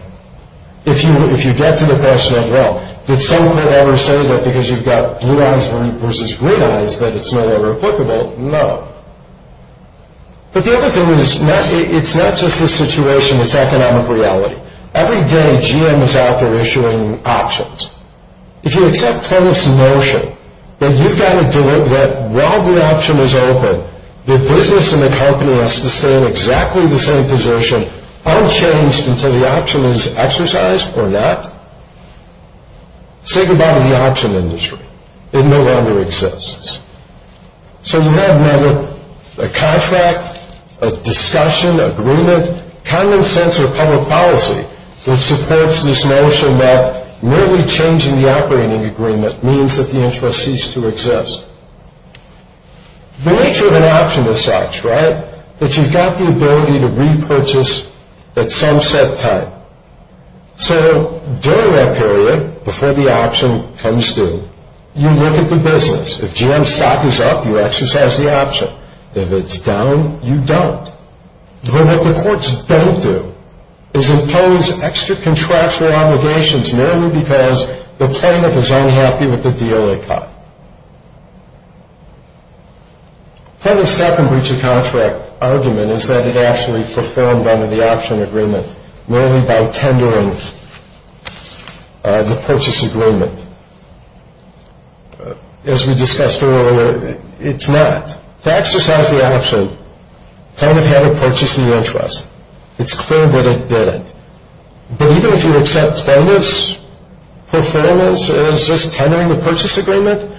If you get to the question of, well, did someone ever say that because you've got blue eyes versus green eyes that it's no longer applicable? No. But the other thing is, it's not just the situation, it's economic reality. Every day GM is out there issuing options. If you accept Tony's notion that you've got to do it, that while the option is open, your business and the company will have to stay in exactly the same position unchanged until the option is exercised or not, think about the option industry. It no longer exists. So you have a contract, a discussion, agreement, common sense or public policy that supports this notion that merely changing the operating agreement means that the interest cease to exist. The nature of an option is such, right, that you've got the ability to repurchase at some set time. So during that period, before the option comes through, you look at the business. If GM's stock is up, you exercise the option. If it's down, you don't. But what the courts don't do is impose extra contractual obligations merely because the plaintiff is unhappy with the deal they've got. Part of the second breach of contract argument is that it actually performed under the option agreement, merely by tendering the purchase agreement. As we discussed earlier, it's not. Taxes have the option. The tenant had a purchase in the interest. It's clear that it did. But even if you accept tenant's performance as just tendering the purchase agreement,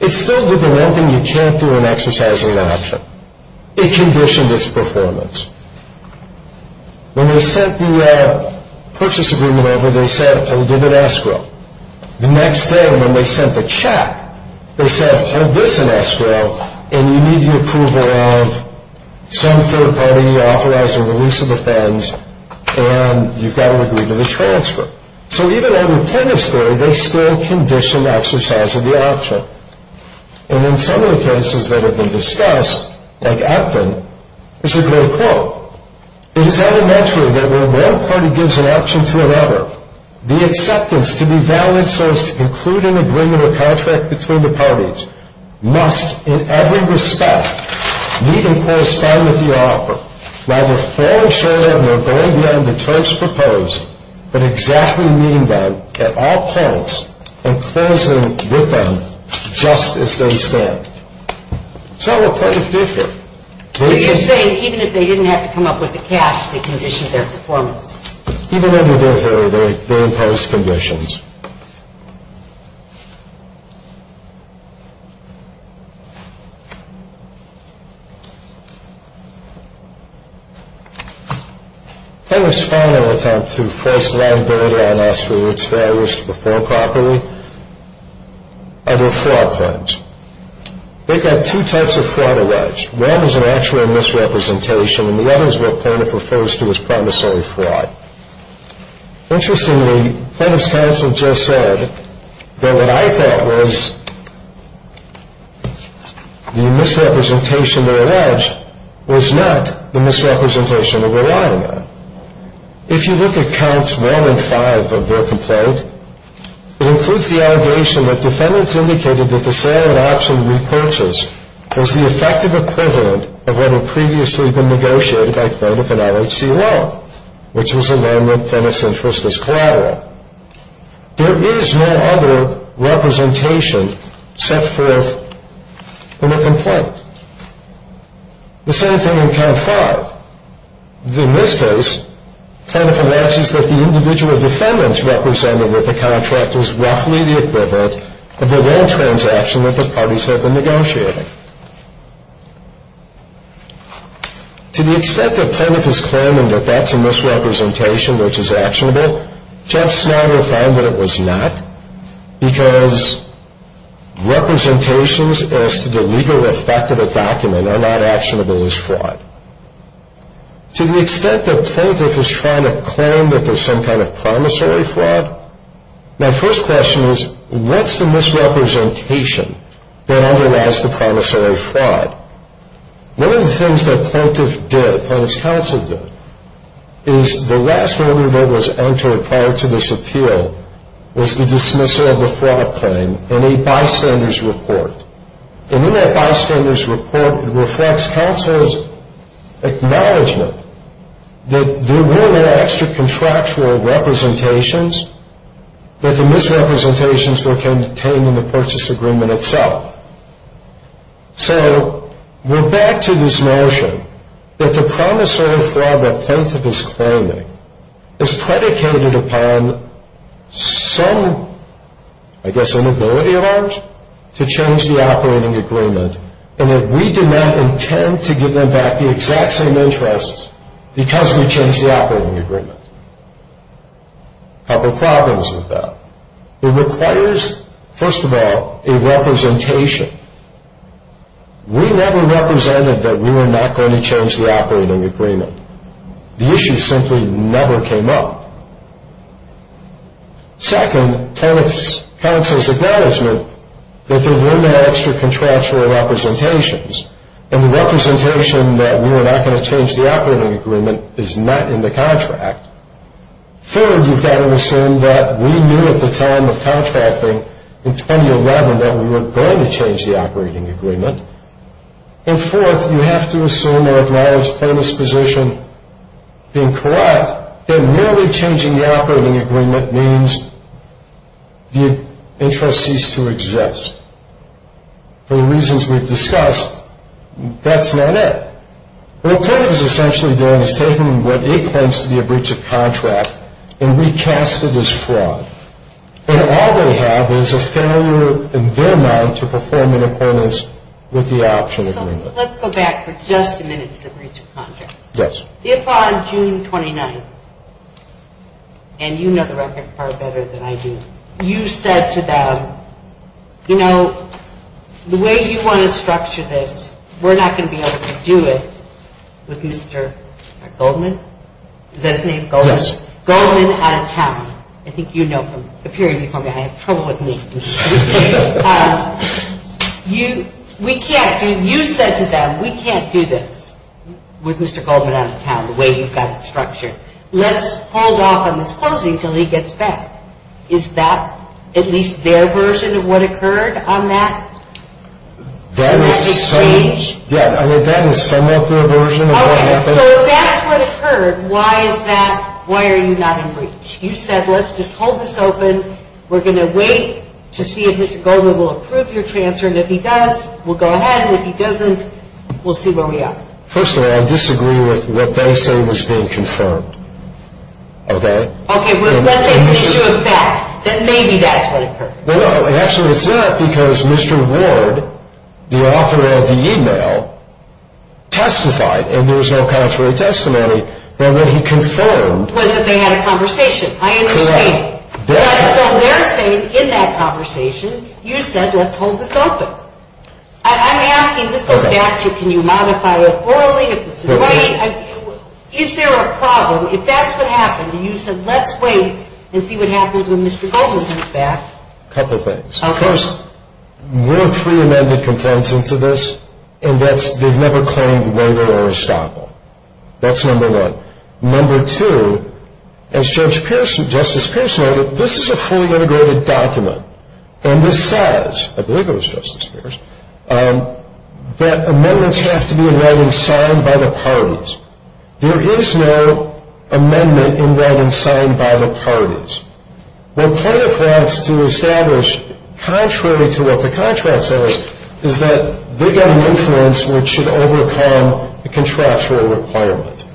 it still did the one thing you can't do in exercising that option. It conditioned its performance. When they sent the purchase agreement over, they said, oh, give it escrow. The next day when they sent the check, they said, oh, this is escrow, and you need the approval of some third party authorizing the lease of the fence, and you've got to agree to the transfer. So even under tenders for it, they still conditioned exercising the option. And in some of the cases that have been discussed, like Acton, there's a great quote. It is elementary that when one party gives an option to another, the acceptance to be valid so as to conclude an agreement or contract between the parties must, in every respect, meet and correspond with the offer, rather than fall short of their goal beyond the terms proposed, but exactly mean that, at all costs, and closing with them just as they stand. So what does this do here? So you're saying even if they didn't have to come up with the cash, they conditioned their performance. Even under those very close conditions. They responded in an attempt to force land builder on asteroids that were at risk to perform properly under fraud claims. They got two types of fraud arrears. One is an actual misrepresentation, and the other is what Plano refers to as promissory fraud. Interestingly, Plano's counsel just said that what I thought was the misrepresentation of a ledge was not the misrepresentation of a liner. If you look at counts one and five of their complaint, it includes the allegation that defendants indicated that the sale and auction repurchase was the effective equivalent of what had previously been negotiated by Plano for LHCL, which was a loan that Plano's interest was collateral. There is no other representation set forth in the complaint. The same thing in count five. In this case, Plano announces that the individual defendants represented with the contract is roughly the equivalent of the loan transaction that the parties have been negotiating. To the extent that Plano is claiming that that's a misrepresentation, which is actionable, Judge Snyder found that it was not, because representations as to the legal effect of a document are not actionable as fraud. To the extent that Plano is trying to claim that there's some kind of promissory fraud, my first question is, what's the misrepresentation that underlies the promissory fraud? One of the things that plaintiff did, and its counsel did, is the last argument that was entered prior to this appeal was the dismissal of the fraud claim in a bystander's report. And in that bystander's report reflects counsel's acknowledgement that there were extra contractual representations, but the misrepresentations came in the purchase agreement itself. So we're back to this notion that the promissory fraud that plaintiff is claiming is predicated upon some, I guess, inability of ours to change the operating agreement, and that we did not intend to give them back the exact same interests because we changed the operating agreement. Now, the problem is with that. It requires, first of all, a representation. We never represented that we were not going to change the operating agreement. The issue simply never came up. Second, plaintiff's counsel's acknowledgement that there were no extra contractual representations, and the representation that we were not going to change the operating agreement is not in the contract. Third, you've got to assume that we knew at the time of contracting in 2011 that we weren't going to change the operating agreement. And fourth, you have to assume or acknowledge plaintiff's position in court that merely changing the operating agreement means the interests cease to exist. For the reasons we've discussed, that's not it. What the court is essentially doing is taking what it claims to be a breach of contract and recast it as fraud. And all they have is a failure in their mind to perform in accordance with the optional agreement. Let's go back for just a minute to the breach of contract. Yes. If on June 29th, and you know the record far better than I do, you said to them, you know, the way you want to structure this, we're not going to be able to do it with Mr. Goldman. Is that a thing? Goldman's? Goldman out of town. I think you know him. If you hear me from behind, come with me. You said to them, we can't do this with Mr. Goldman out of town, the way he's got the structure. Let's hold off on the closing until he gets back. Is that at least their version of what occurred on that? That's a breach. Yeah, I mean, that is somewhat their version of what happened. Okay, so if that's what occurred, why is that, why are you not in breach? You said, let's just hold this open. We're going to wait to see if Mr. Goldman will approve your transferring. If he does, we'll go ahead, and if he doesn't, we'll see where we are. First of all, I disagree with what they say was being confirmed. Okay? Okay, well, let's assume it's a fact that maybe that's what occurred. No, no, and actually it's not because Mr. Ward, the author of the e-mail, testified, and there was no contrary testimony, then what he confirmed was that they had a conversation. I understand. Correct. That's what they're saying in that conversation. You said, let's hold this open. I'm asking, this is a fact, can you modify it orally? Is there a problem if that's what happened? You said, let's wait and see what happens when Mr. Goldman gets back. A couple of things. Okay. First, we're a pre-amended component to this, and they've never claimed whether or a stopper. That's number one. Number two, as Justice Pierce noted, this is a fully integrated document, and this says, I believe it was Justice Pierce, that amendments have to be in writing signed by the parties. There is no amendment in writing signed by the parties. The point of that to establish, contrary to what the contract says, is that they have no influence which should overcome the contractual requirement.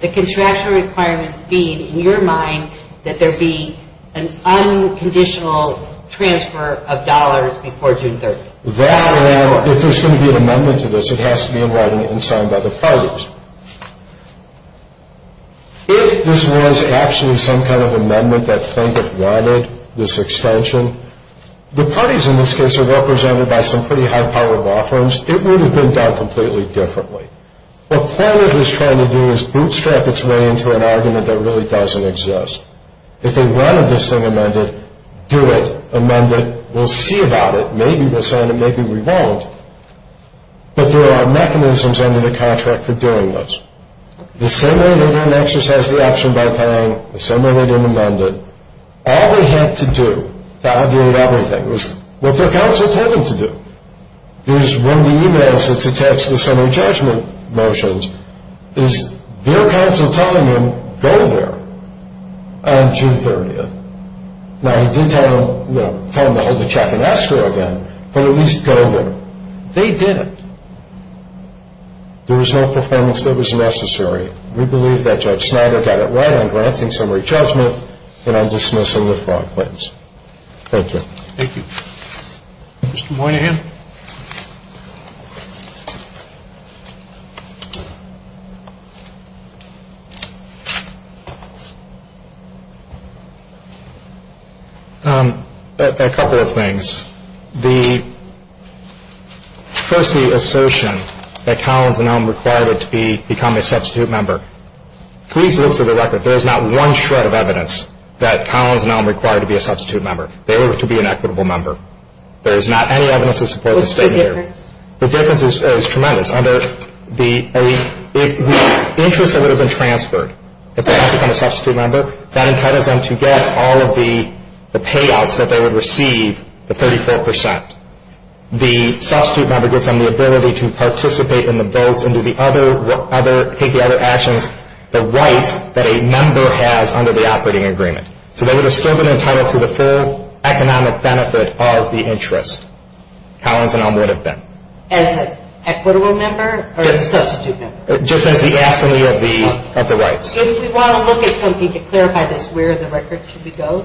The contractual requirement being, in your mind, that there be an unconditional transfer of dollars before June 30th. If there's going to be an amendment to this, it has to be in writing and signed by the parties. If this was actually some kind of amendment that Frank had wanted, this extension, the parties in this case are represented by some pretty high-powered law firms. It would have been done completely differently. What Plano is trying to do is bootstrap its way into an argument that really doesn't exist. If they wanted this thing amended, do it, amend it, we'll see about it. Maybe they'll sign it, maybe they won't. But there are mechanisms under the contract for doing this. The same way that Nexus has the option by paying, the same way they didn't amend it. All they had to do to evaluate everything was what their counsel told them to do. It was one of the emails that's attached to the summary judgment motions. It was their counsel telling them, go there on June 30th. Now, they did tell them to check and ask for it again, but at least go there. They did it. There was no performance that was necessary. We believe that Judge Snyder got it right on granting summary judgment and on dismissing the fraud claims. Thank you. Thank you. Mr. Moynihan? A couple of things. First, the assertion that Collins and Elm required it to become a substitute member. Please note for the record, there is not one shred of evidence that Collins and Elm required it to be a substitute member. They wanted it to be an equitable member. There is not any evidence to support the statement. What's the difference? The difference is tremendous. The interest that would have been transferred if it had become a substitute member, that entitles them to get all of the payouts that they would receive, the 34%. The substitute member gives them the ability to participate in the vote and do the other, take the other actions, the right that a member has under the operating agreement. So they would have served an entitlement to the full economic benefit of the interest. Collins and Elm would have been. As an equitable member or a substitute member? Just as the absolute of the rights. If you want to look at something to clarify this, where in the record should we go?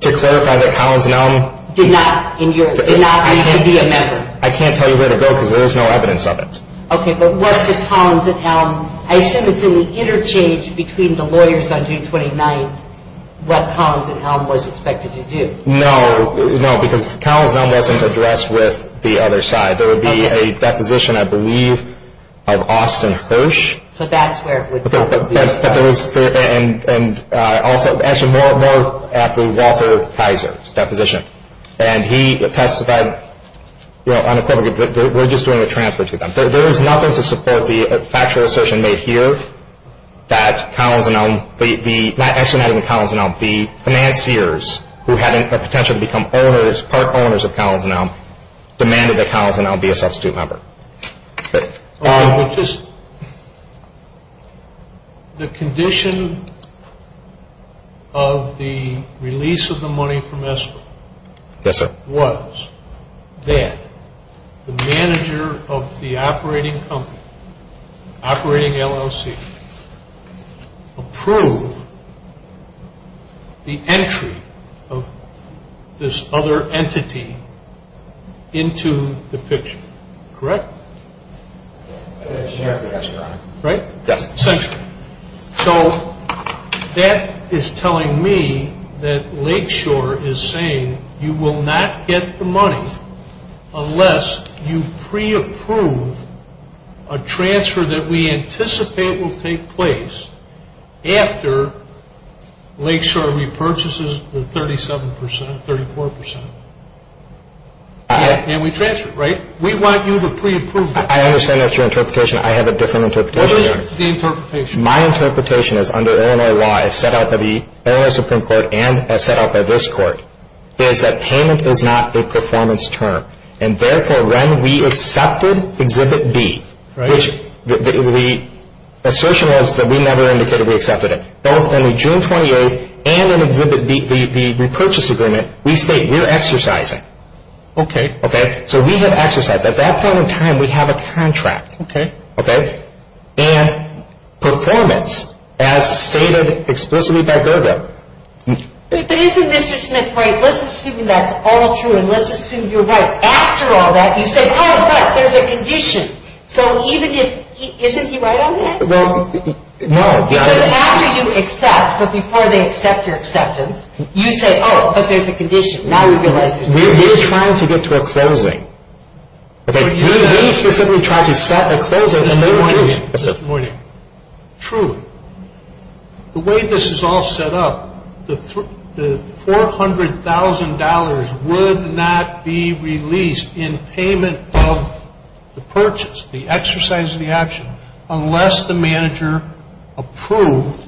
To clarify that Collins and Elm. Did not need to be a member. I can't tell you where to go because there is no evidence of it. Okay, but what did Collins and Elm, I assume it's in the interchange between the lawyers on June 29th, what Collins and Elm was expected to do. No, no, because Collins and Elm wasn't addressed with the other side. There would be a deposition, I believe, of Austin Hirsch. So that's where. And also, actually, more after Walter Kaiser's deposition. And he testified, you know, unequivocally, we're just doing a transfer to them. There is nothing to support the factual assertion made here that Collins and Elm, not actually Collins and Elm, the financiers who had a potential to become part owners of Collins and Elm demanded that Collins and Elm be a substitute member. The condition of the release of the money from ESSA was that the manager of the operating company, operating LLC, approve the entry of this other entity into the picture. Correct? Yes, Your Honor. Right? Yes. Thank you. So that is telling me that Lakeshore is saying you will not get the money unless you pre-approve a transfer that we anticipate will take place after Lakeshore repurchases the 37%, 34%. And we transfer it, right? We want you to pre-approve it. I understand that's your interpretation. I have a different interpretation. My interpretation is, under ANIY, set out by the ANI Supreme Court and set out by this court, is that payment is not a performance term. And therefore, when we accepted Agribit B, which the assertion was that we never indicated we accepted it, both in June 28 and in the repurchase agreement, we say we're exercising. Okay. Okay? So we have exercised. At that point in time, we have a contract. Okay. Okay? And performance as stated explicitly by GERDA. But isn't Mr. Smith right? Let's assume that's all true, and let's assume you're right. After all that, you say, oh, but there's a condition. So isn't he right on that? No. After you accept, but before they accept your acceptance, you say, oh, okay, it's a condition. Now we're going to exercise. We're just trying to get to a closing. Okay. We're trying to stop the closing of the merger. True. The way this is all set up, the $400,000 would not be released in payment of the purchase, the exercise of the action, unless the manager approved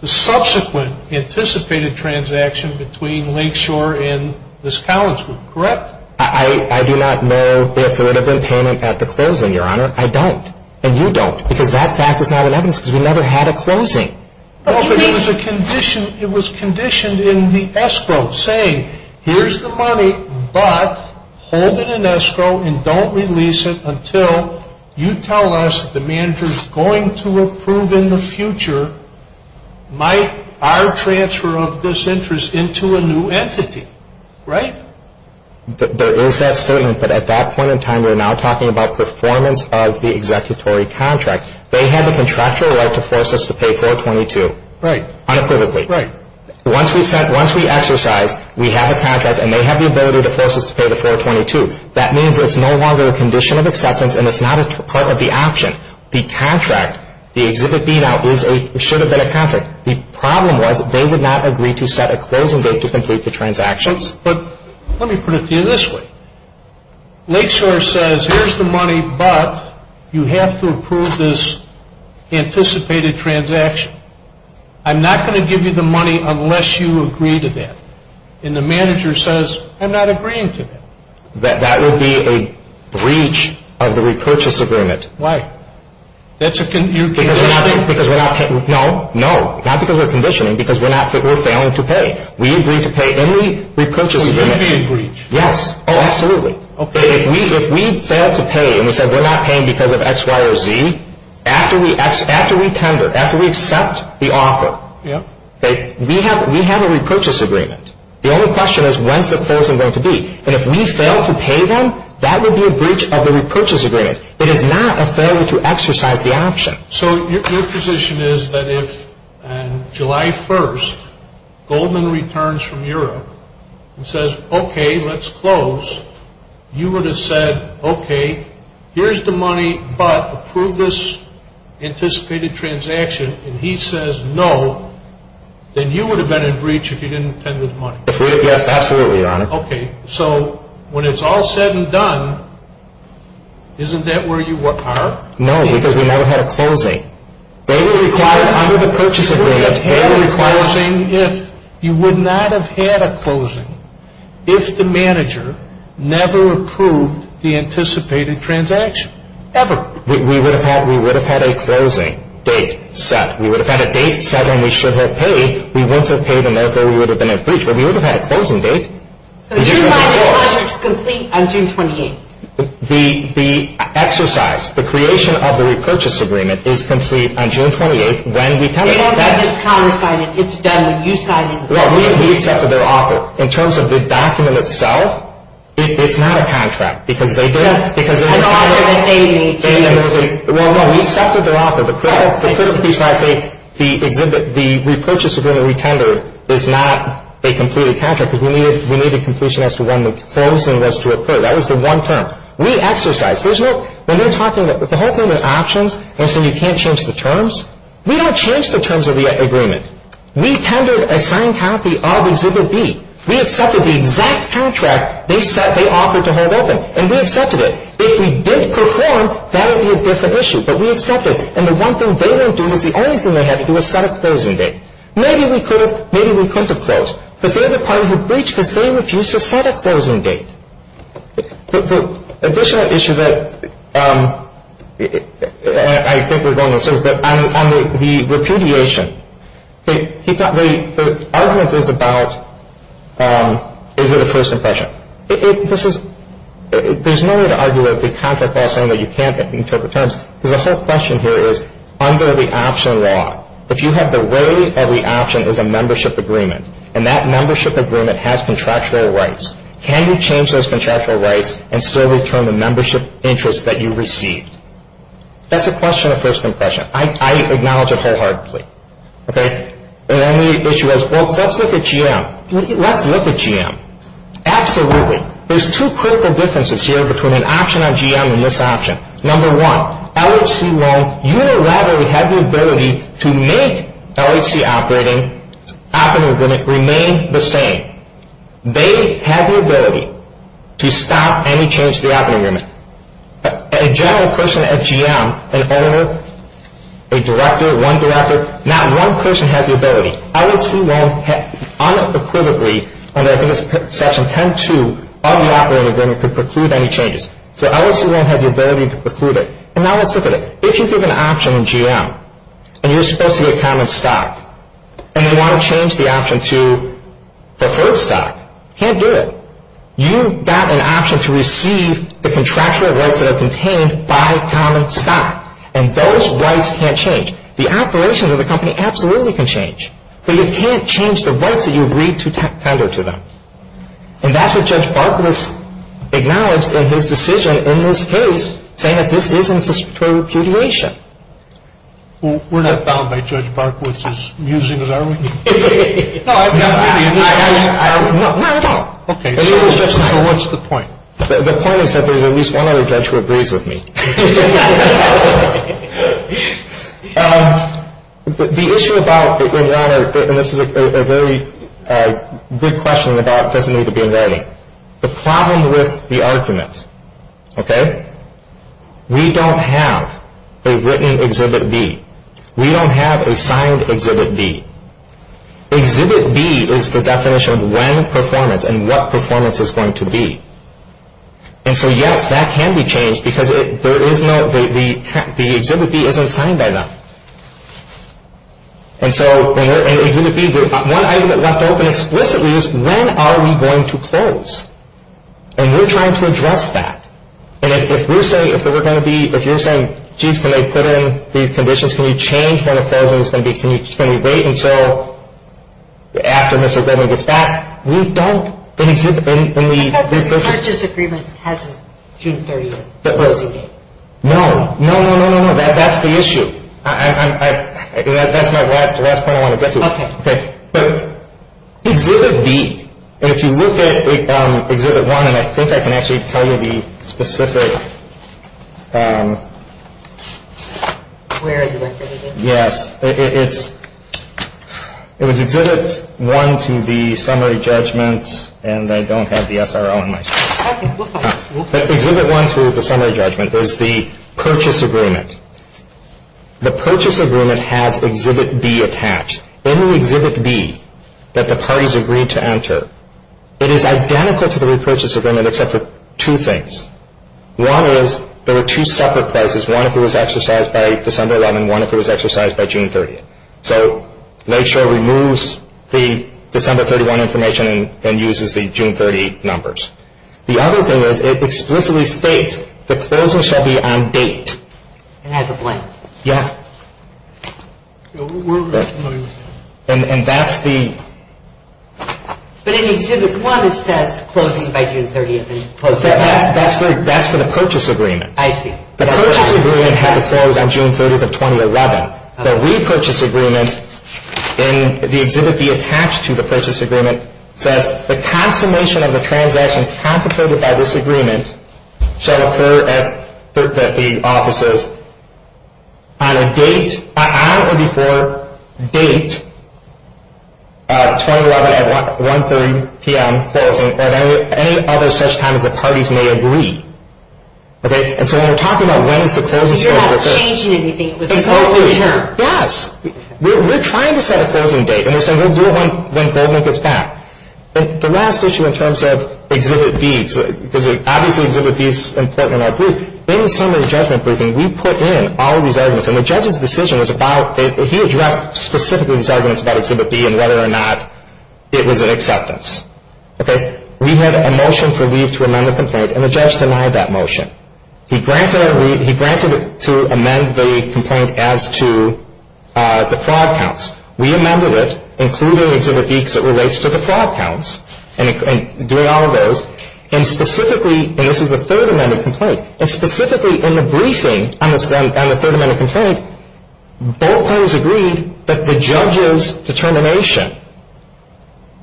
the subsequent anticipated transaction between Lakeshore and this college, correct? I do not know if there would have been payment at the closing, Your Honor. I don't. And you don't. Because that factor is not in evidence because we never had a closing. It was conditioned in the escrow, saying, here's the money, but hold it in escrow and don't release it until you tell us the manager's going to approve in the future our transfer of this interest into a new entity, right? There is that statement, but at that point in time, we're now talking about performance of the executory contract. They have a contractual right to force us to pay 422. Right. Unquivocally. Right. Once we exercise, we have a contract, and they have the ability to force us to pay the 422. That means there's no longer a condition of acceptance, and it's not a part of the action. The contract, the exhibit B now, should have been a contract. The problem was they would not agree to set a closing date to complete the transactions. But let me put it to you this way. Lakeshore says, here's the money, but you have to approve this anticipated transaction. I'm not going to give you the money unless you agree to that. And the manager says, I'm not agreeing to that. That would be a breach of the repurchase agreement. Why? That's a condition. No. No. Not because we're conditioning, because we're failing to pay. We agree to pay any repurchase agreement. Yes. Oh, absolutely. If we fail to pay, and we say we're not paying because of X, Y, or Z, after we tender, after we accept the offer, we have a repurchase agreement. The only question is, when's the closing going to be? And if we fail to pay them, that would be a breach of the repurchase agreement. It is not a failure to exercise the action. So your position is that if, on July 1st, Goldman returns from Europe and says, okay, let's close, you would have said, okay, here's the money, but approve this anticipated transaction. And he says no, then you would have been in breach if you didn't tender the money. Yes, absolutely, Your Honor. Okay. So when it's all said and done, isn't that where you are? No, because we would not have had a closing. They would require a repurchase agreement. They would require a saying if. You would not have had a closing if the manager never approved the anticipated transaction. Ever. We would have had a closing date set. We would have had a date set, and we should have paid. We wouldn't have paid, and therefore we would have been in breach. But we would have had a closing date. So June 1st is complete on June 28th. The exercise, the creation of the repurchase agreement is complete on June 28th when we come back. I just can't understand it. It's done. You signed it. Well, we've accepted their offer. In terms of the document itself, it's not a contract. Because they didn't. Because they didn't. Well, no, we accepted their offer. The purchase agreement we tendered is not a completed contract because we needed completion as to when the closing was to occur. That was the one term. We exercised. The whole thing was options, and so we can't change the terms. We don't change the terms of the agreement. We tendered a signed copy of exhibit B. We accepted the exact contract they offered to hold open, and we accepted it. If we didn't perform, that would be a different issue. But we accepted it. And the one thing they were doing was the only thing they had to do was set a closing date. Maybe we could have closed. But the other party who breached it, they refused to set a closing date. The additional issue that I think is on the surface, on the repudiation, the argument is about is it a first impression. There's no way to argue that if the contract says something that you can't interpret the terms. The whole question here is under the option law, if you have the way that the option is a membership agreement, and that membership agreement has contractual rights, can you change those contractual rights and still return the membership interest that you received? That's a question of first impression. I acknowledge it wholeheartedly. And then the issue is, well, let's look at GM. Let's look at GM. Absolutely. There's two critical differences here between an option on GM and this option. Number one, LHC won't unilaterally have the ability to make LHC operating agreement remain the same. They have the ability to stop any change to the operating agreement. A general person at GM, an editor, a director, one director, not one person has the ability. LHC won't unequivocally, only I think it's Section 10.2 of the operating agreement, to preclude any changes. So LHC won't have the ability to preclude it. And now let's look at it. If you take an option on GM and you're supposed to be a common stock and you want to change the option to preferred stock, you can't do it. You've got an option to receive the contractual rights that are contained by common stock, and those rights can't change. The operation of the company absolutely can change, but you can't change the rights that you agreed to tender to them. And that's what Judge Barkowitz acknowledged in his decision in his case, saying that this isn't a statutory repudiation. We're not bound by Judge Barkowitz's using of that argument. No, I'm not. What's the point? The point is that there's at least one other judge who agrees with me. The issue about, and this is a very good question about definitions of being ready, the problem with the arguments, okay, we don't have a written Exhibit B. We don't have a signed Exhibit B. Exhibit B is the definition of when performance and what performance is going to be. And so, yes, that can be changed, because the Exhibit B isn't signed by them. And so Exhibit B, one item that left open explicitly is when are we going to close? And we're trying to address that. And if we're saying, if you're saying, geez, can I put in these conditions, can we change when the closing is going to be, can we wait until after Mr. Goldman gets back, we don't in the- The purchase agreement has a June 31 closing date. No, no, no, no, no, that's the issue. That's my last point I want to get to. Okay. Exhibit B, and if you look at Exhibit 1, and I think I can actually tell you the specific- Where is Exhibit 1? Yes. It was Exhibit 1 through the summary judgment, and I don't have the SRO in my- Exhibit 1 through the summary judgment is the purchase agreement. The purchase agreement has Exhibit B attached. Any Exhibit B that the parties agreed to enter, it is identical to the repurchase agreement except for two things. One is, there are two separate places. One of them was exercised by December 11, one of them was exercised by June 30. So, NACCHO removes the December 31 information and uses the June 30 numbers. The other thing is, it explicitly states the closing shall be on date. It has a blank. Yeah. And that's the- But in Exhibit 1, it said closing by June 30. That's for the purchase agreement. I see. The purchase agreement had to close on June 30 of 2011. The repurchase agreement, in the Exhibit B attached to the purchase agreement, says the consummation of the transaction concentrated at this agreement shall occur at June 30, offices, on a date- I don't know if it's for a date, 2011 at 1.30 p.m. closing, or any other such time that the parties may agree. Okay? And so when we're talking about when the closing date is- It's not changing anything. It's the closing date. Yes. We're trying to set a closing date, and we're saying we'll do it when closing gets back. The last issue in terms of Exhibit B, because obviously Exhibit B is important in our group, in the summary judgment briefing, we put in all these arguments, and the judge's decision was about- he addressed specifically these arguments about Exhibit B and whether or not it was an acceptance. Okay? We had a motion for leave to amend the complaint, and the judge denied that motion. He granted it to amend the complaint as to the fraud counts. We amended it, including Exhibit B, because it relates to the fraud counts, and doing all of those, and specifically- and this is the third amendment complaint- and specifically in the briefing on the third amendment complaint, both parties agreed that the judge's determination,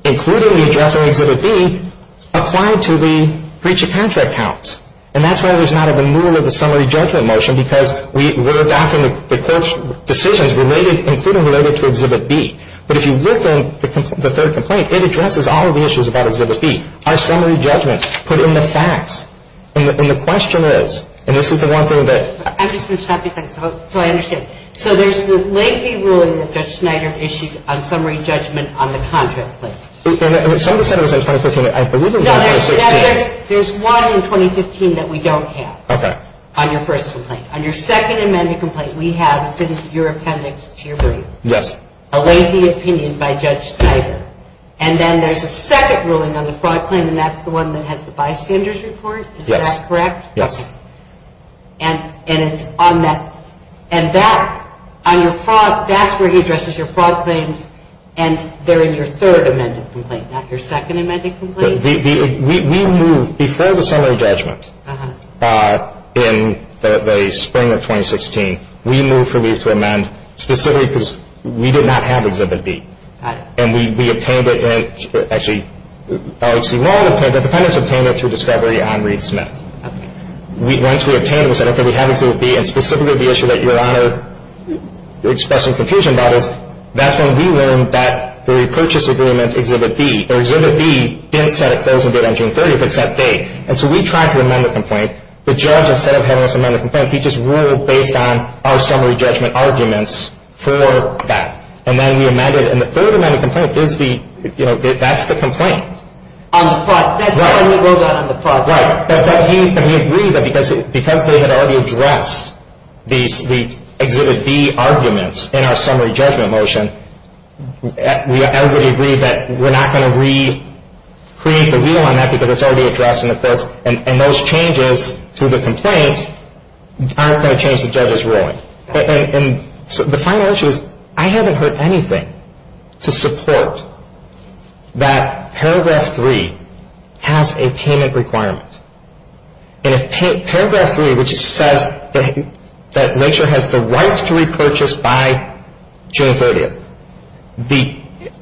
including the judge's Exhibit B, applied to the breach of contract counts. And that's why there's not a renewal of the summary judgment motion, because we worked out the court's decisions, including related to Exhibit B. But if you look at the third complaint, it addresses all of the issues about Exhibit B. Our summary judgment put in the facts. And the question is, and this is the one thing that- I'm just going to stop you for a second, so I understand. So there's the lengthy ruling that Judge Schneider issued on summary judgment on the contract. And the summary judgment was in 2015. I believe it was in 2016. There's one in 2015 that we don't have on your first complaint. On your second amendment complaint, we have, since your appendix to your brief, a lengthy opinion by Judge Schneider. And then there's a second ruling on the fraud claim, and that's the one that has the bystanders report. Is that correct? Yes. And it's on that. And that's where he addresses your fraud claims. And there is your third amendment complaint, not your second amendment complaint. We moved, before the summary judgment, in the spring of 2016, we moved for you to amend specifically because we did not have Exhibit B. And we obtained it in-actually, the defendants obtained it through discovery on Reed Smith. Once we obtained it, we said, okay, we have Exhibit B, and specifically the issue that you're expressing confusion about it, that's when we learned that the repurchase agreement Exhibit B, or Exhibit B in effect doesn't date on June 30th, but it's that date. And so we tried to amend the complaint. The judge, instead of having us amend the complaint, he just ruled based on our summary judgment arguments for that. And then we amended it. And the third amendment complaint is the, you know, that's the complaint. On the fraud. On the fraud. Right. That means that we agree that because we have already addressed the Exhibit B arguments in our summary judgment motion, everybody agrees that we're not going to re-create the rule on that because it's already addressed in the first, and those changes to the complaint aren't going to change the judge's rule. And so the final issue is I haven't heard anything to support that Paragraph 3 has a payment requirement. And if Paragraph 3, which says that nature has the right to repurchase by June 30th,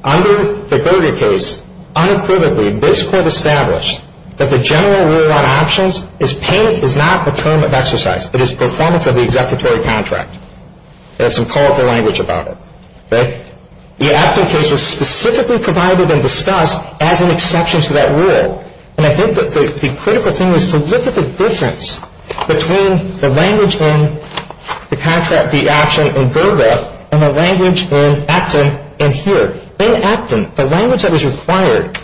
under the 30th case, unequivocally, this court established that the general rule on options is payment is not a term of exercise. It is performance of the executory contract. There's some powerful language about it. Right? The Acton case was specifically provided and discussed as an exception to that rule. And I think that the critical thing is to look at the difference between the language in the contract, the action, in Burbank and the language in Acton and here. In Acton, the language that was required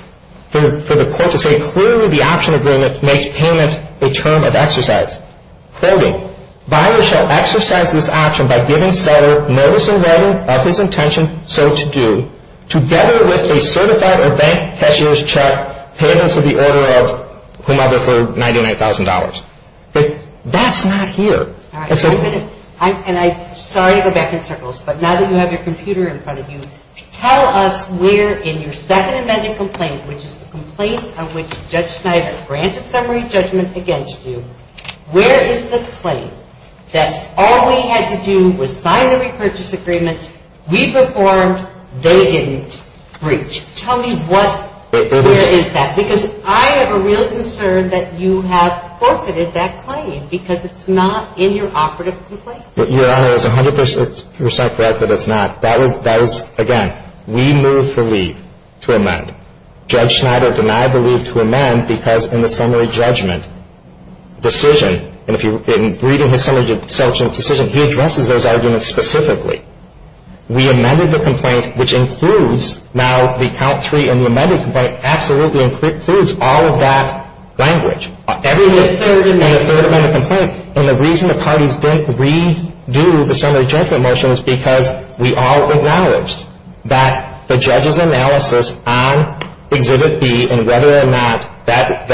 for the court to say clearly the action agreement makes payment a term of exercise. Thirdly, buyers shall exercise this option by giving seller notice and warning of his intention so to do, together with a certified or bank cashier's check paid into the order of whomever for $99,000. But that's not here. And I'm sorry, Rebecca, but now that you have your computer in front of you, tell us where in your second amendment complaint, which is the complaint on which Judge Schneider granted summary judgment against you, where is the claim that all we had to do was sign the repurchase agreement, we performed, they didn't breach? Tell me where is that? Because I have a real concern that you have forfeited that claim because it's not in your operative complaint. Your Honor, it's 100% correct that it's not. Again, we moved the leave to amend. Judge Schneider demanded the leave to amend because in the summary judgment decision, and if you've been reading the summary judgment decision, he addresses those arguments specifically. We amended the complaint, which includes now the count three and the amended complaint, absolutely includes all of that language. And the reason the parties didn't redo the summary judgment motion is because we all acknowledged that the judge's analysis on Exhibit B and whether or not that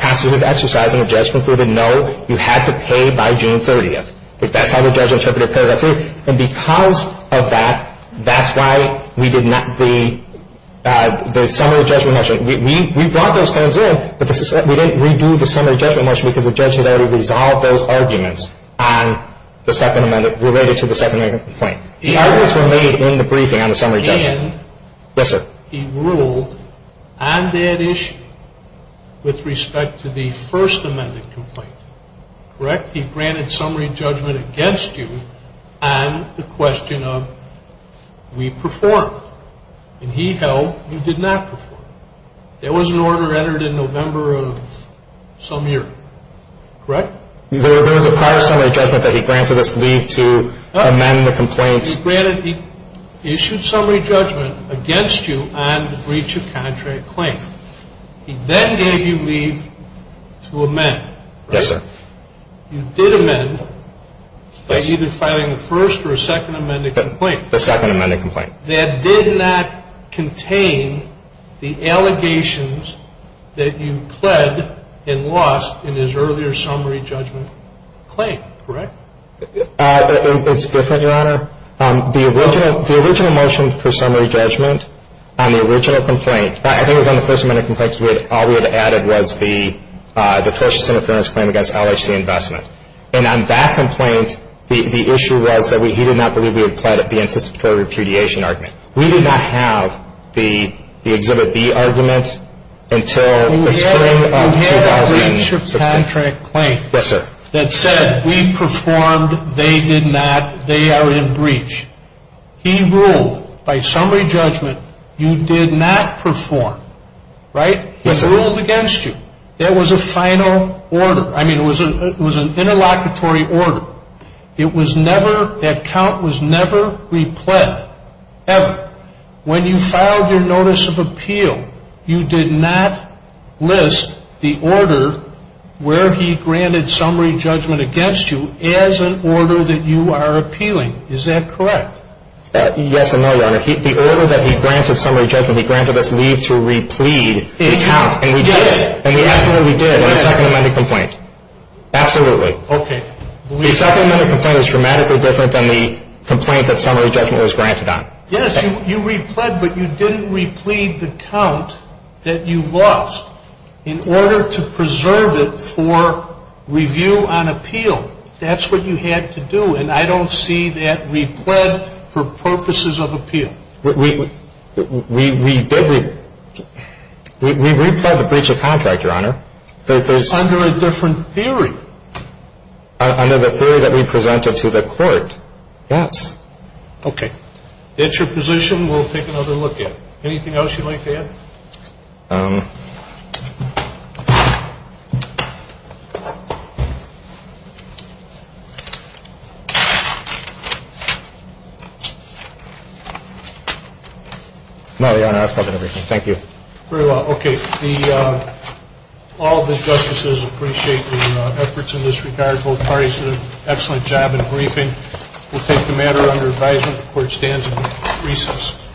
passage was exercised and the judge concluded, no, you had to pay by June 30th. That's how the judge interpreted paragraph three. And because of that, that's why we did not read the summary judgment motion. We brought those things in, but we didn't redo the summary judgment motion because the judge had already resolved those arguments on the second amendment related to the second amendment complaint. The arguments were made in the briefing on the summary judgment motion. Again, he ruled on that issue with respect to the first amended complaint. Correct? He granted summary judgment against you on the question of, we performed. And he held you did not perform. There was an order entered in November of some year. Correct? There was a prior summary judgment that he granted us leave to amend the complaint. He issued summary judgment against you on the breach of contract claim. He then gave you leave to amend. Yes, sir. You did amend by either filing the first or second amended complaint. The second amended complaint. That did not contain the allegations that you pled and lost in his earlier summary judgment claim. Correct? It's different, Your Honor. The original motion for summary judgment on the original complaint, I think it was on the first amended complaint, which all we had added was the first interference claim against LRC Investments. And on that complaint, the issue was that he did not believe we had pled at the anticipated repudiation argument. We did not have the Exhibit B arguments until... We had a breach of contract claim. Yes, sir. That said, we performed, they did not, they are in breach. He ruled by summary judgment, you did not perform. Right? He ruled against you. There was a final order. I mean, it was an interlocutory order. It was never, that count was never repled. Ever. When you filed your notice of appeal, you did not list the order where he granted summary judgment against you as an order that you are appealing. Is that correct? Yes, I know, Your Honor. The order that he granted summary judgment, he granted us leave to repled the count. And we did it. And we absolutely did it. Absolutely. Okay. The supplementary complaint is dramatically different than the complaint that summary judgment was granted on. Yes, you repled, but you didn't repled the count that you lost in order to preserve it for review on appeal. That's what you had to do, and I don't see that repled for purposes of appeal. We did repled the breach of contract, Your Honor. Under a different theory. Under the theory that we presented to the court, yes. Okay. That's your position. We'll take another look at it. Anything else you'd like to add? No, Your Honor. That's all that I have. Thank you. Very well. Okay. All the justices appreciate the efforts in this regard. Both parties did an excellent job in briefing. We'll take the matter under advisement. The court stands in recess.